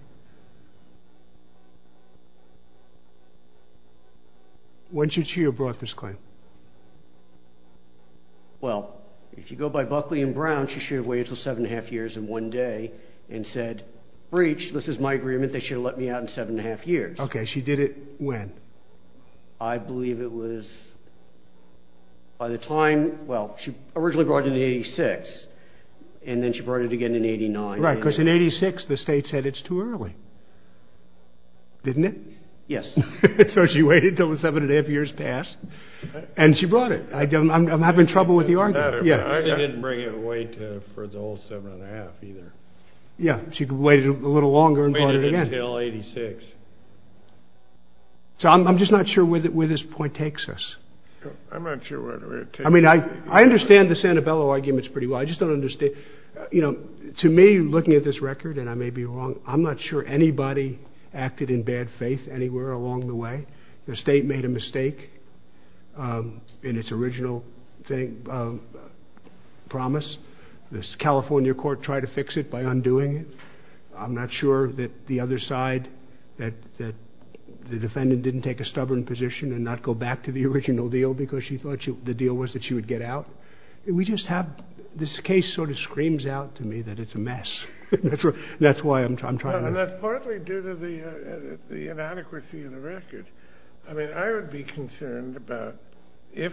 When should she have brought this claim? Well, if you go by Buckley and Brown, she should have waited until seven and a half years in one day and said, breach, this is my agreement, they should have let me out in seven and a half years. Okay, she did it when? I believe it was, by the time, well, she originally brought it in 86 and then she brought it again in 89. Right, because in 86 the state said it's too early, didn't it? Yes. So she waited until the seven and a half years passed and she brought it. I'm having trouble with the argument. I didn't bring it away for the whole seven and a half either. Yeah, she waited a little longer and brought it again. Waited until 86. So I'm just not sure where this point takes us. I'm not sure where it takes us. I mean, I understand the Sanabella arguments pretty well. I just don't understand, you know, to me, looking at this record, and I may be wrong, I'm not sure anybody acted in bad faith anywhere along the way. The state made a mistake in its original promise. The California court tried to fix it by undoing it. I'm not sure that the other side, that the defendant didn't take a stubborn position and not go back to the original deal because she thought the deal was that she would get out. We just have, this case sort of screams out to me that it's a mess. That's why I'm trying to. Well, that's partly due to the inadequacy of the record. I mean, I would be concerned about if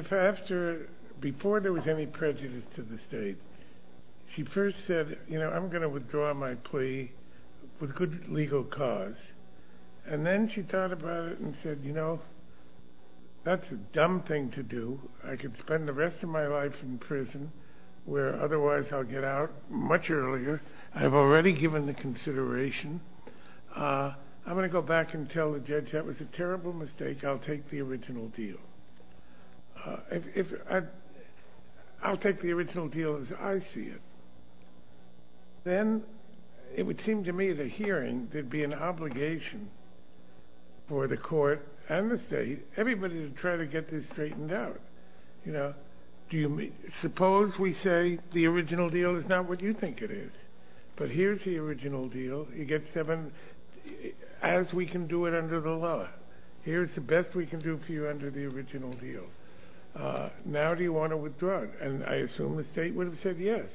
after, before there was any prejudice to the state, she first said, you know, I'm going to withdraw my plea with good legal cause, and then she thought about it and said, you know, that's a dumb thing to do. I could spend the rest of my life in prison where otherwise I'll get out much earlier. I've already given the consideration. I'm going to go back and tell the judge that was a terrible mistake. I'll take the original deal. I'll take the original deal as I see it. Then it would seem to me the hearing could be an obligation for the court and the state, everybody to try to get this straightened out. You know, suppose we say the original deal is not what you think it is, but here's the original deal. You get seven as we can do it under the law. Here's the best we can do for you under the original deal. Now do you want to withdraw it? And I assume the state would have said yes.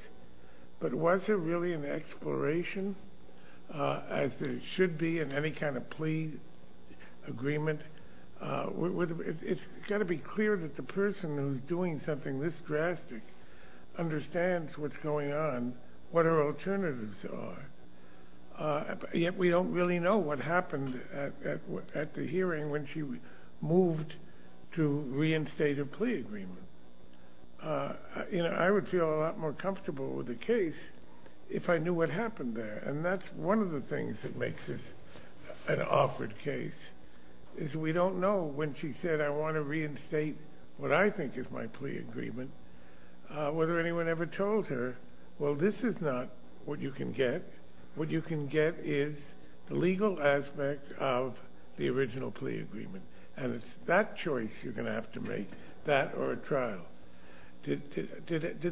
But was there really an exploration as there should be in any kind of plea agreement? It's got to be clear that the person who's doing something this drastic understands what's going on, what her alternatives are. Yet we don't really know what happened at the hearing when she moved to reinstate a plea agreement. You know, I would feel a lot more comfortable with the case if I knew what happened there. And that's one of the things that makes this an awkward case is we don't know when she said, I want to reinstate what I think is my plea agreement, whether anyone ever told her, well, this is not what you can get. What you can get is the legal aspect of the original plea agreement, and it's that choice you're going to have to make, that or a trial. Did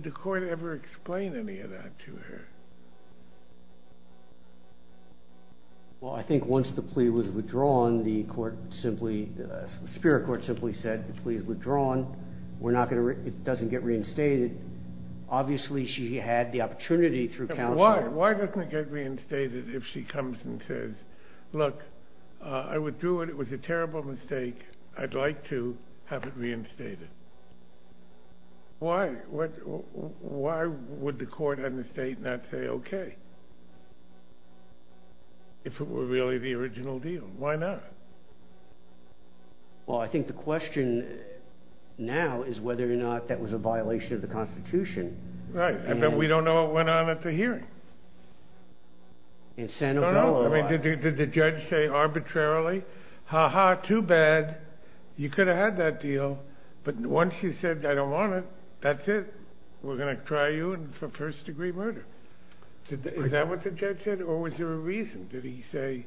the court ever explain any of that to her? Well, I think once the plea was withdrawn, the spirit court simply said the plea is withdrawn. It doesn't get reinstated. Obviously she had the opportunity through counsel. Why doesn't it get reinstated if she comes and says, look, I withdrew it. It was a terrible mistake. I'd like to have it reinstated. Why would the court and the state not say okay if it were really the original deal? Why not? Well, I think the question now is whether or not that was a violation of the Constitution. Right. Did the judge say arbitrarily, ha-ha, too bad, you could have had that deal, but once you said I don't want it, that's it. We're going to try you for first-degree murder. Is that what the judge said, or was there a reason? Did he say,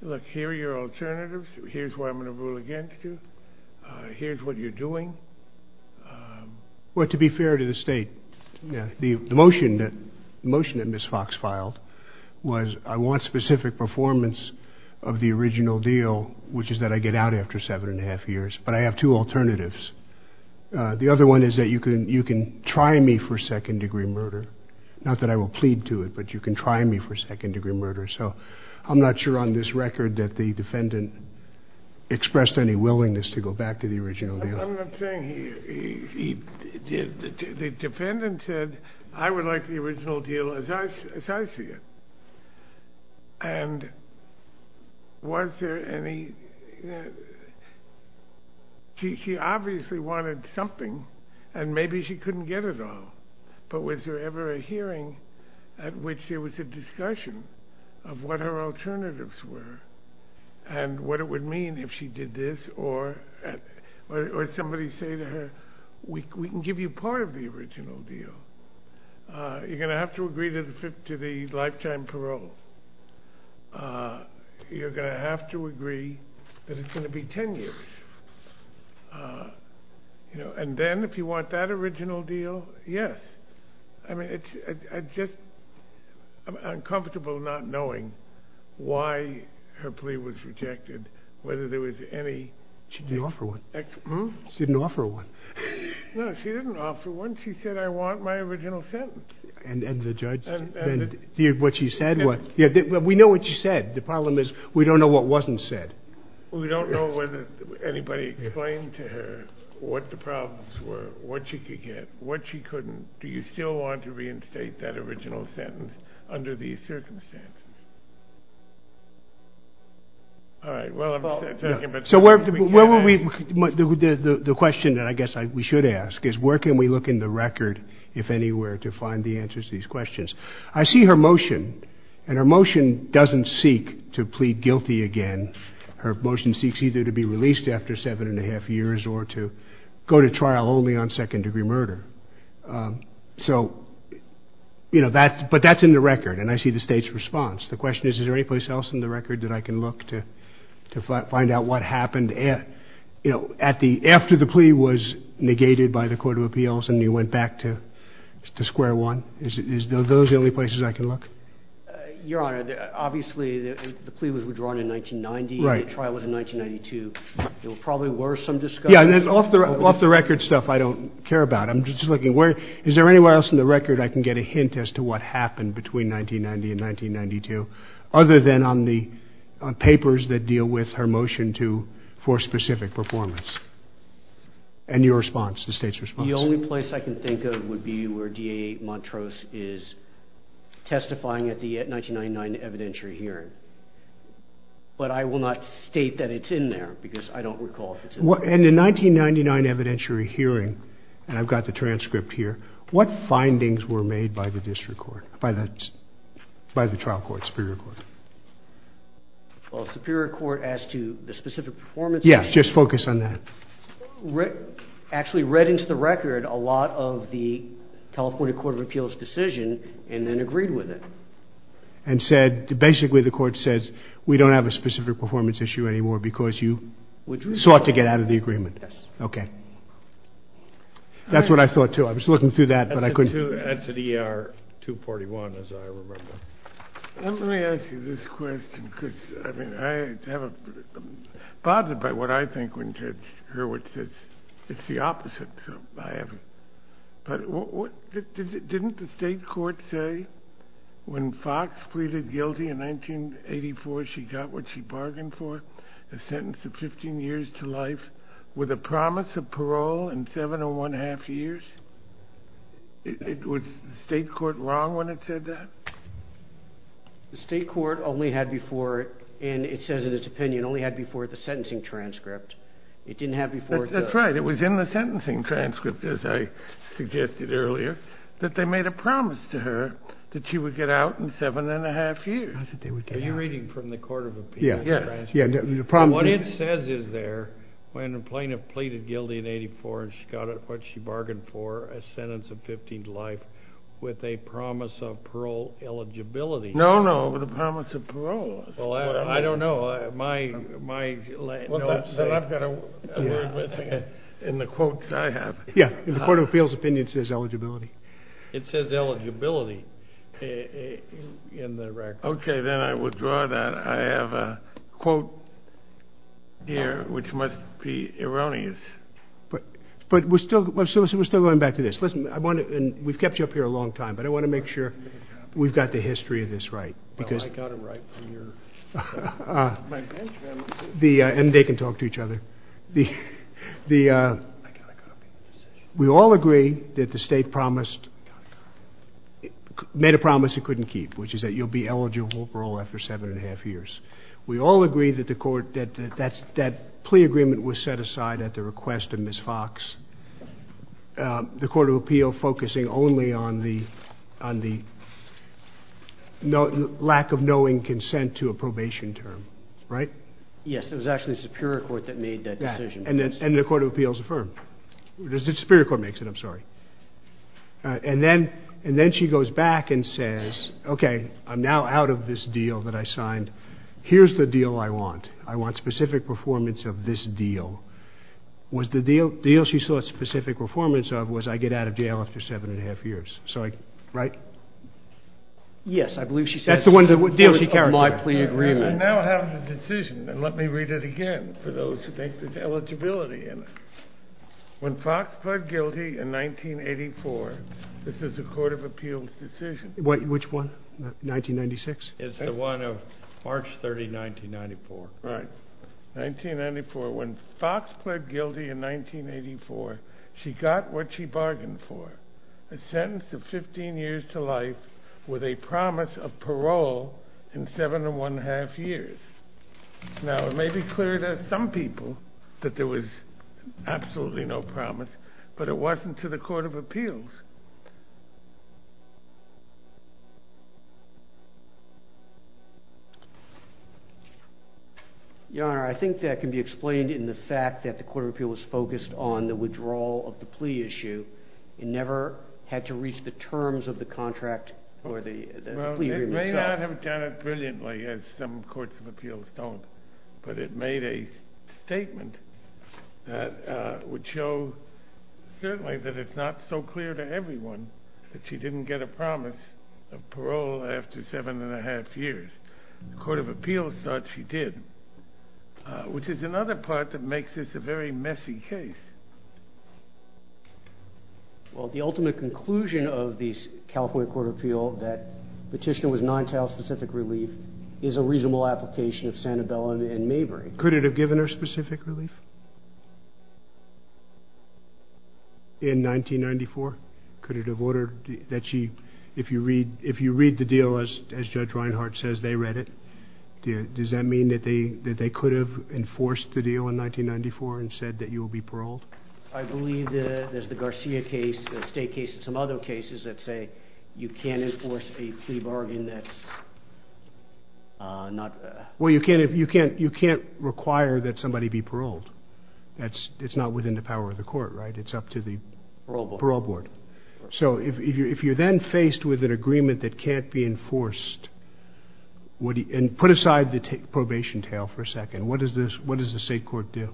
look, here are your alternatives. Here's what I'm going to rule against you. Here's what you're doing. Well, to be fair to the state, the motion that Ms. Fox filed was I want specific performance of the original deal, which is that I get out after seven and a half years, but I have two alternatives. The other one is that you can try me for second-degree murder. Not that I will plead to it, but you can try me for second-degree murder. So I'm not sure on this record that the defendant expressed any willingness to go back to the original deal. I'm not saying he did. The defendant said I would like the original deal as I see it. And was there any – she obviously wanted something, and maybe she couldn't get it all. But was there ever a hearing at which there was a discussion of what her alternatives were and what it would mean if she did this, or somebody say to her, we can give you part of the original deal. You're going to have to agree to the lifetime parole. You're going to have to agree that it's going to be 10 years. And then if you want that original deal, yes. I mean, it's just uncomfortable not knowing why her plea was rejected, whether there was any – She didn't offer one. She didn't offer one. No, she didn't offer one. She said, I want my original sentence. And the judge – what she said was – we know what she said. The problem is we don't know what wasn't said. We don't know whether anybody explained to her what the problems were, what she could get, what she couldn't. Do you still want to reinstate that original sentence under these circumstances? All right. So where would we – the question that I guess we should ask is where can we look in the record, if anywhere, to find the answers to these questions? I see her motion, and her motion doesn't seek to plead guilty again. Her motion seeks either to be released after seven and a half years or to go to trial only on second-degree murder. So, you know, that – but that's in the record, and I see the State's response. The question is, is there any place else in the record that I can look to find out what happened at – you know, at the – after the plea was negated by the Court of Appeals and you went back to square one? Is those the only places I can look? Your Honor, obviously the plea was withdrawn in 1990. Right. The trial was in 1992. There probably were some discussions. Yeah, and off the record stuff I don't care about. I'm just looking. Is there anywhere else in the record I can get a hint as to what happened between 1990 and 1992, other than on the papers that deal with her motion to – for specific performance? And your response, the State's response? The only place I can think of would be where D.A. Montrose is testifying at the 1999 evidentiary hearing. But I will not state that it's in there because I don't recall if it's in there. And the 1999 evidentiary hearing – and I've got the transcript here – what findings were made by the district court – by the trial court, Superior Court? Well, Superior Court as to the specific performance? Yeah, just focus on that. Actually read into the record a lot of the California Court of Appeals' decision and then agreed with it. And said – basically the court says, we don't have a specific performance issue anymore because you sought to get out of the agreement. Yes. Okay. That's what I thought, too. I was looking through that, but I couldn't – Add to the ER 241, as I remember. Let me ask you this question because, I mean, I'm bothered by what I think when Ted Hurwitz says it's the opposite. But didn't the state court say when Fox pleaded guilty in 1984, she got what she bargained for, a sentence of 15 years to life, with a promise of parole in seven and one-half years? Was the state court wrong when it said that? The state court only had before – and it says in its opinion – only had before the sentencing transcript. It didn't have before the – That's right. It was in the sentencing transcript, as I suggested earlier, that they made a promise to her that she would get out in seven and a half years. Are you reading from the Court of Appeals' transcript? Yeah. What it says is there, when a plaintiff pleaded guilty in 1984, she got what she bargained for, a sentence of 15 to life, with a promise of parole eligibility. No, no. With a promise of parole. I don't know. My – Well, I've got a word with it in the quotes I have. Yeah. In the Court of Appeals' opinion, it says eligibility. It says eligibility in the record. Okay. Then I withdraw that. I have a quote here, which must be erroneous. But we're still – we're still going back to this. Listen, I want to – and we've kept you up here a long time, but I want to make sure we've got the history of this right. I've got it right here. And they can talk to each other. We all agree that the state promised – made a promise it couldn't keep, which is that you'll be eligible for parole after seven and a half years. We all agree that the court – that plea agreement was set aside at the request of Ms. Fox, the Court of Appeals focusing only on the lack of knowing consent to a probation term, right? Yes. It was actually Superior Court that made that decision. And the Court of Appeals affirmed. Superior Court makes it. I'm sorry. And then – and then she goes back and says, okay, I'm now out of this deal that I signed. Here's the deal I want. I want specific performance of this deal. Was the deal she sought specific performance of was I get out of jail after seven and a half years. So I – right? Yes, I believe she said – That's the one deal she carried. I now have the decision, and let me read it again for those who think there's eligibility in it. When Fox pled guilty in 1984 – this is the Court of Appeals decision. Which one? 1996? It's the one of March 30, 1994. Right. 1994. When Fox pled guilty in 1984, she got what she bargained for, a sentence of 15 years to life with a promise of parole in seven and one-half years. Now, it may be clear to some people that there was absolutely no promise, but it wasn't to the Court of Appeals. Your Honor, I think that can be explained in the fact that the Court of Appeals was focused on the withdrawal of the plea issue and never had to reach the terms of the contract for the plea agreement. Well, it may not have done it brilliantly, as some courts of appeals don't, but it made a statement that would show, certainly, that it's not so clear to everyone that she didn't get a promise of parole after seven and a half years. The Court of Appeals thought she did, which is another part that makes this a very messy case. Well, the ultimate conclusion of the California Court of Appeals that the petition was non-trial-specific relief is a reasonable application of Sanibel and Mabry. Could it have given her specific relief? In 1994? Could it have ordered that she... If you read the deal, as Judge Reinhart says, they read it, does that mean that they could have enforced the deal in 1994 and said that you will be paroled? I believe there's the Garcia case, the state case and some other cases that say you can't enforce the pre-bargain that's not... Well, you can't require that somebody be paroled. It's not within the power of the court, right? It's up to the parole board. So if you're then faced with an agreement that can't be enforced, and put aside the probation tail for a second, what does the state court do?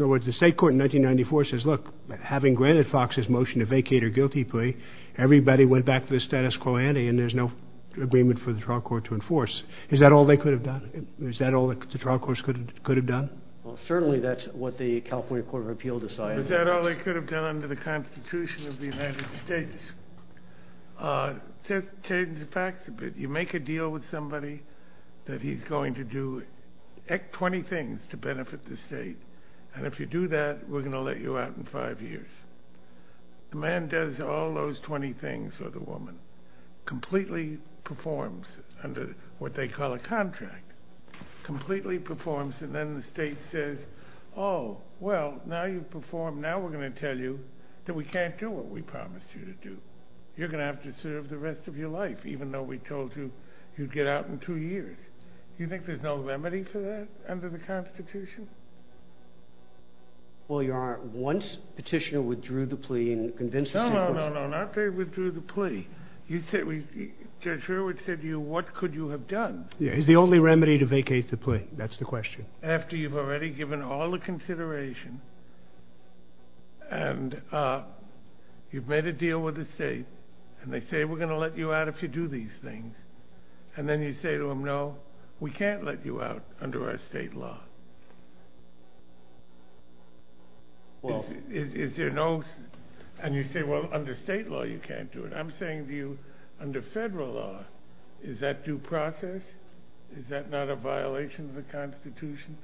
In other words, the state court in 1994 says, look, having granted Foxx's motion to vacate her guilty plea, everybody went back to the status quo ante and there's no agreement for the trial court to enforce. Is that all they could have done? Is that all the trial courts could have done? Well, certainly that's what the California Court of Appeals decided. Is that all they could have done under the Constitution of the United States? In fact, if you make a deal with somebody that he's going to do 20 things to benefit the state, and if you do that, we're going to let you out in five years, the man does all those 20 things, or the woman, completely performs under what they call a contract, completely performs, and then the state says, oh, well, now you've performed, now we're going to tell you that we can't do what we promised you to do. You're going to have to serve the rest of your life, even though we told you you'd get out in two years. Do you think there's no remedy for that under the Constitution? Well, Your Honor, once Petitioner withdrew the plea and convinced us... No, no, no, no, not that he withdrew the plea. Judge Hurwitz said to you, what could you have done? The only remedy to vacate the plea, that's the question. After you've already given all the consideration and you've made a deal with the state and they say, we're going to let you out if you do these things, and then you say to them, no, we can't let you out under our state law. And you say, well, under state law you can't do it. I'm saying to you, under federal law, is that due process? Is that not a violation of the Constitution,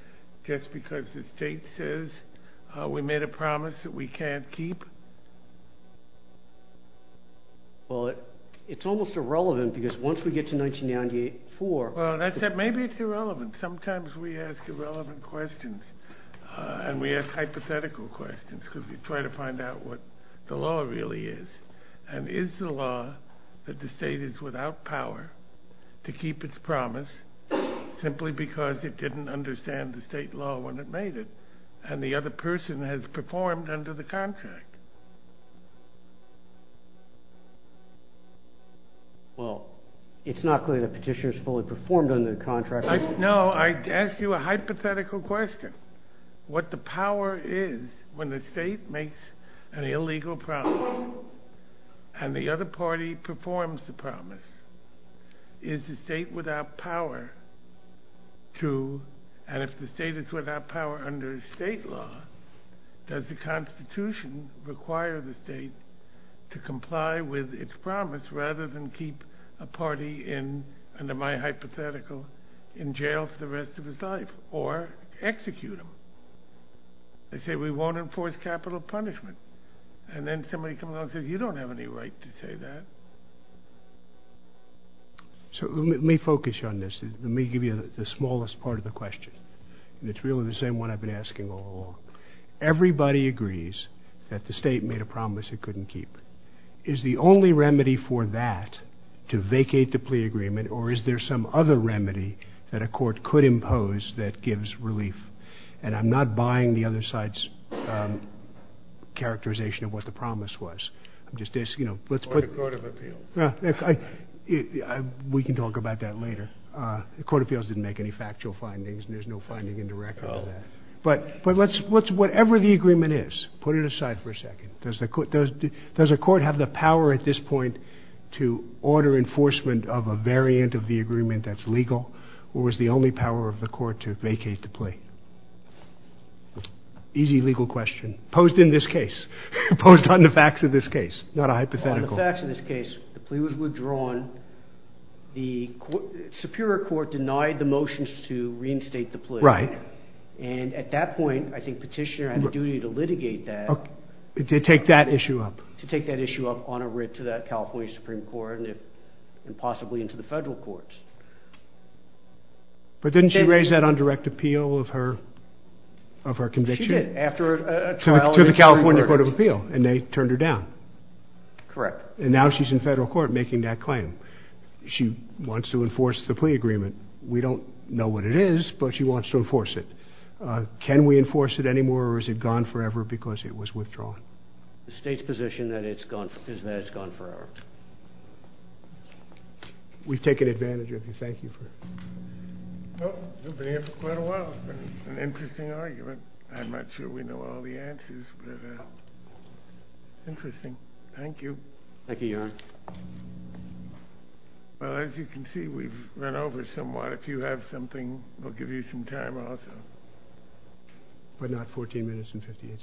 just because the state says we made a promise that we can't keep? Well, it's almost irrelevant, because once we get to 1994... Well, as I said, maybe it's irrelevant. Sometimes we ask irrelevant questions and we ask hypothetical questions because we try to find out what the law really is. And is the law that the state is without power to keep its promise simply because it didn't understand the state law when it made it and the other person has performed under the contract? Well, it's not clear the petitioner has fully performed under the contract. No, I asked you a hypothetical question. What the power is when the state makes an illegal promise and the other party performs the promise. Is the state without power to... And if the state is without power under state law, does the Constitution require the state to comply with its promise rather than keep a party in, under my hypothetical, in jail for the rest of its life, or execute them? They say we won't enforce capital punishment. And then somebody comes along and says, you don't have any right to say that. So let me focus on this. Let me give you the smallest part of the question. It's really the same one I've been asking all along. Everybody agrees that the state made a promise it couldn't keep. Is the only remedy for that to vacate the plea agreement or is there some other remedy that a court could impose that gives relief? And I'm not buying the other side's characterization of what the promise was. I'm just asking, you know, let's put... We can talk about that later. The Court of Appeals didn't make any factual findings, and there's no finding in the record of that. But whatever the agreement is, put it aside for a second. Does a court have the power at this point to order enforcement of a variant of the agreement that's legal, or is the only power of the court to vacate the plea? Easy legal question posed in this case, posed on the facts of this case, not a hypothetical. On the facts of this case, the plea was withdrawn. The Superior Court denied the motions to reinstate the plea. Right. And at that point, I think Petitioner had a duty to litigate that. To take that issue up. To take that issue up on a writ to that California Supreme Court and possibly into the federal courts. But didn't she raise that on direct appeal of her conviction? She did, after a trial in the Supreme Court. To the California Court of Appeal, and they turned her down. Correct. And now she's in federal court making that claim. She wants to enforce the plea agreement. We don't know what it is, but she wants to enforce it. Can we enforce it anymore, or is it gone forever because it was withdrawn? The state's position is that it's gone forever. We've taken advantage of you. Thank you. Well, we've been here for quite a while. It's an interesting argument. I'm not sure we know all the answers. Interesting. Thank you. Thank you, Your Honor. Well, as you can see, we've run over somewhat. If you have something, we'll give you some time also. But not 14 minutes and 58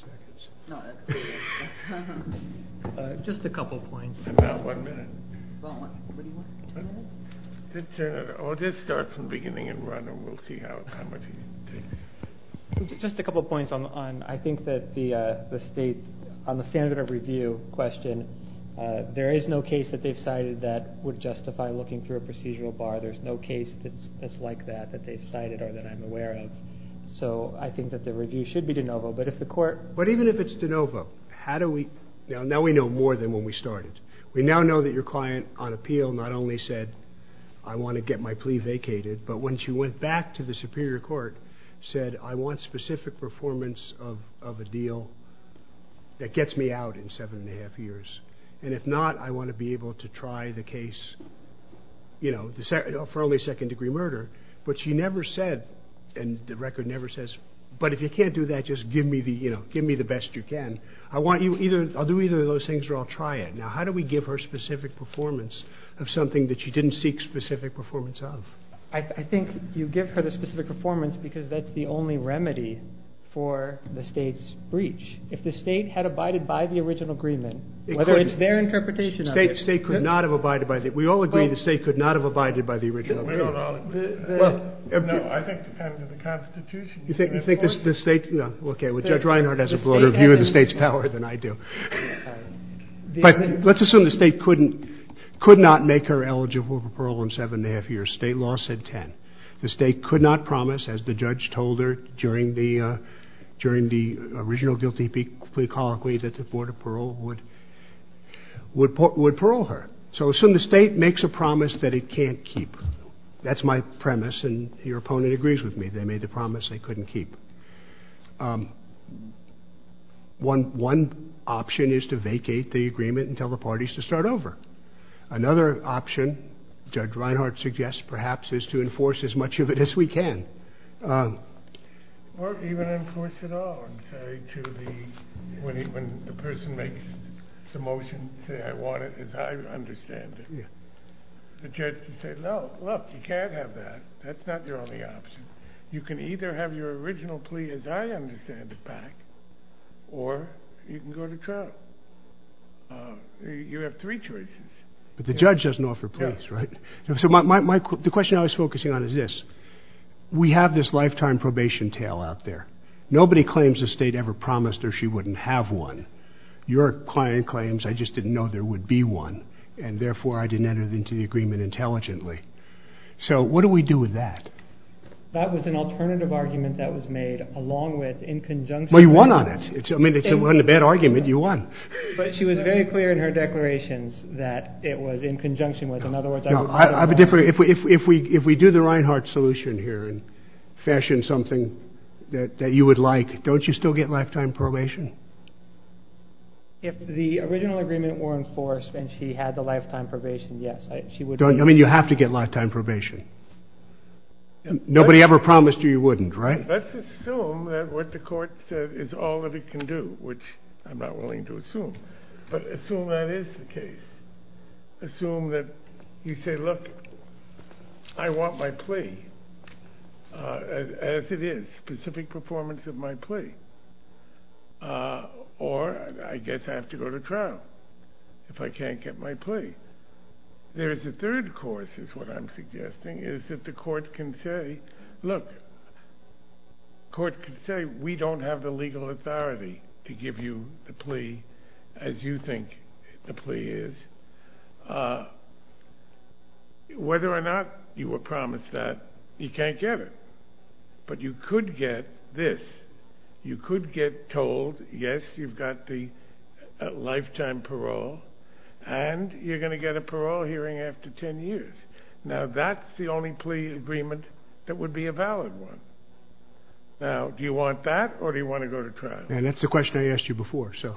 seconds. Just a couple of points. Not one minute. Let's start from beginning and run, and we'll see how it goes. Just a couple of points. I think that on the standard of review question, there is no case that they've cited that would justify looking through a procedural bar. There's no case that's like that that they've cited or that I'm aware of. So I think that the review should be de novo. But even if it's de novo, now we know more than when we started. We now know that your client on appeal not only said, I want to get my plea vacated, but when she went back to the superior court, said, I want specific performance of a deal that gets me out in seven and a half years. And if not, I want to be able to try the case for only second-degree murder. But she never said, and the record never says, but if you can't do that, just give me the best you can. I'll do either of those things or I'll try it. Now, how do we give her specific performance of something that she didn't seek specific performance of? I think you give her the specific performance because that's the only remedy for the state's breach. If the state had abided by the original agreement, whether it's their interpretation of it. The state could not have abided by it. We all agree the state could not have abided by the original agreement. No, I think it depends on the Constitution. You think the state, no. Okay, well, Judge Reinhart has a broader view of the state's power than I do. But let's assume the state could not make her eligible for parole in seven and a half years. State law said ten. The state could not promise, as the judge told her during the original guilty plea colloquy, that the Board of Parole would parole her. So assume the state makes a promise that it can't keep. That's my premise, and your opponent agrees with me. They made the promise they couldn't keep. One option is to vacate the agreement and tell the parties to start over. Another option, Judge Reinhart suggests, perhaps, is to enforce as much of it as we can. Well, even enforce it all. I'm sorry to the, when the person makes the motion, say, I want it as I understand it. The judge can say, no, look, you can't have that. That's not the only option. You can either have your original plea as I understand it back, or you can go to trial. You have three choices. But the judge doesn't offer plea, right? So the question I was focusing on is this. We have this lifetime probation tale out there. Nobody claims the state ever promised her she wouldn't have one. Your client claims, I just didn't know there would be one, and therefore I didn't enter it into the agreement intelligently. So what do we do with that? That was an alternative argument that was made along with, in conjunction with... But she was very clear in her declarations that it was in conjunction with, in other words... I have a different, if we do the Reinhart solution here and fashion something that you would like, don't you still get lifetime probation? If the original agreement were enforced and she had the lifetime probation, yes, she would... I mean, you have to get lifetime probation. Nobody ever promised you you wouldn't, right? Let's assume that what the court said is all that it can do, which I'm not willing to assume. But assume that is the case. Assume that you say, look, I want my plea as it is, specific performance of my plea. Or I guess I have to go to trial if I can't get my plea. There's a third course, is what I'm suggesting, is that the court can say, look... The court can say, we don't have the legal authority to give you a plea as you think the plea is. Whether or not you were promised that, you can't get it. But you could get this. Yes, you've got the lifetime parole, and you're going to get a parole hearing after 10 years. Now, that's the only plea agreement that would be a valid one. Now, do you want that, or do you want to go to trial? That's the question I asked you before, so...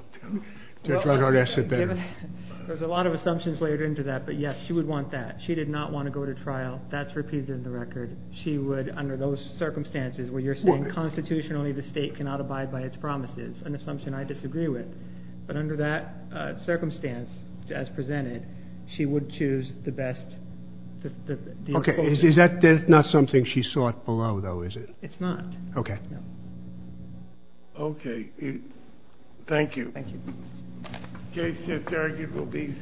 There's a lot of assumptions layered into that, but yes, she would want that. She did not want to go to trial. That's repeated in the record. She would, under those circumstances, where you're saying constitutionally the state cannot abide by its promises, an assumption I disagree with. But under that circumstance, as presented, she would choose the best... Okay, is that not something she sought below, though, is it? It's not. Okay. Okay. Thank you. Thank you.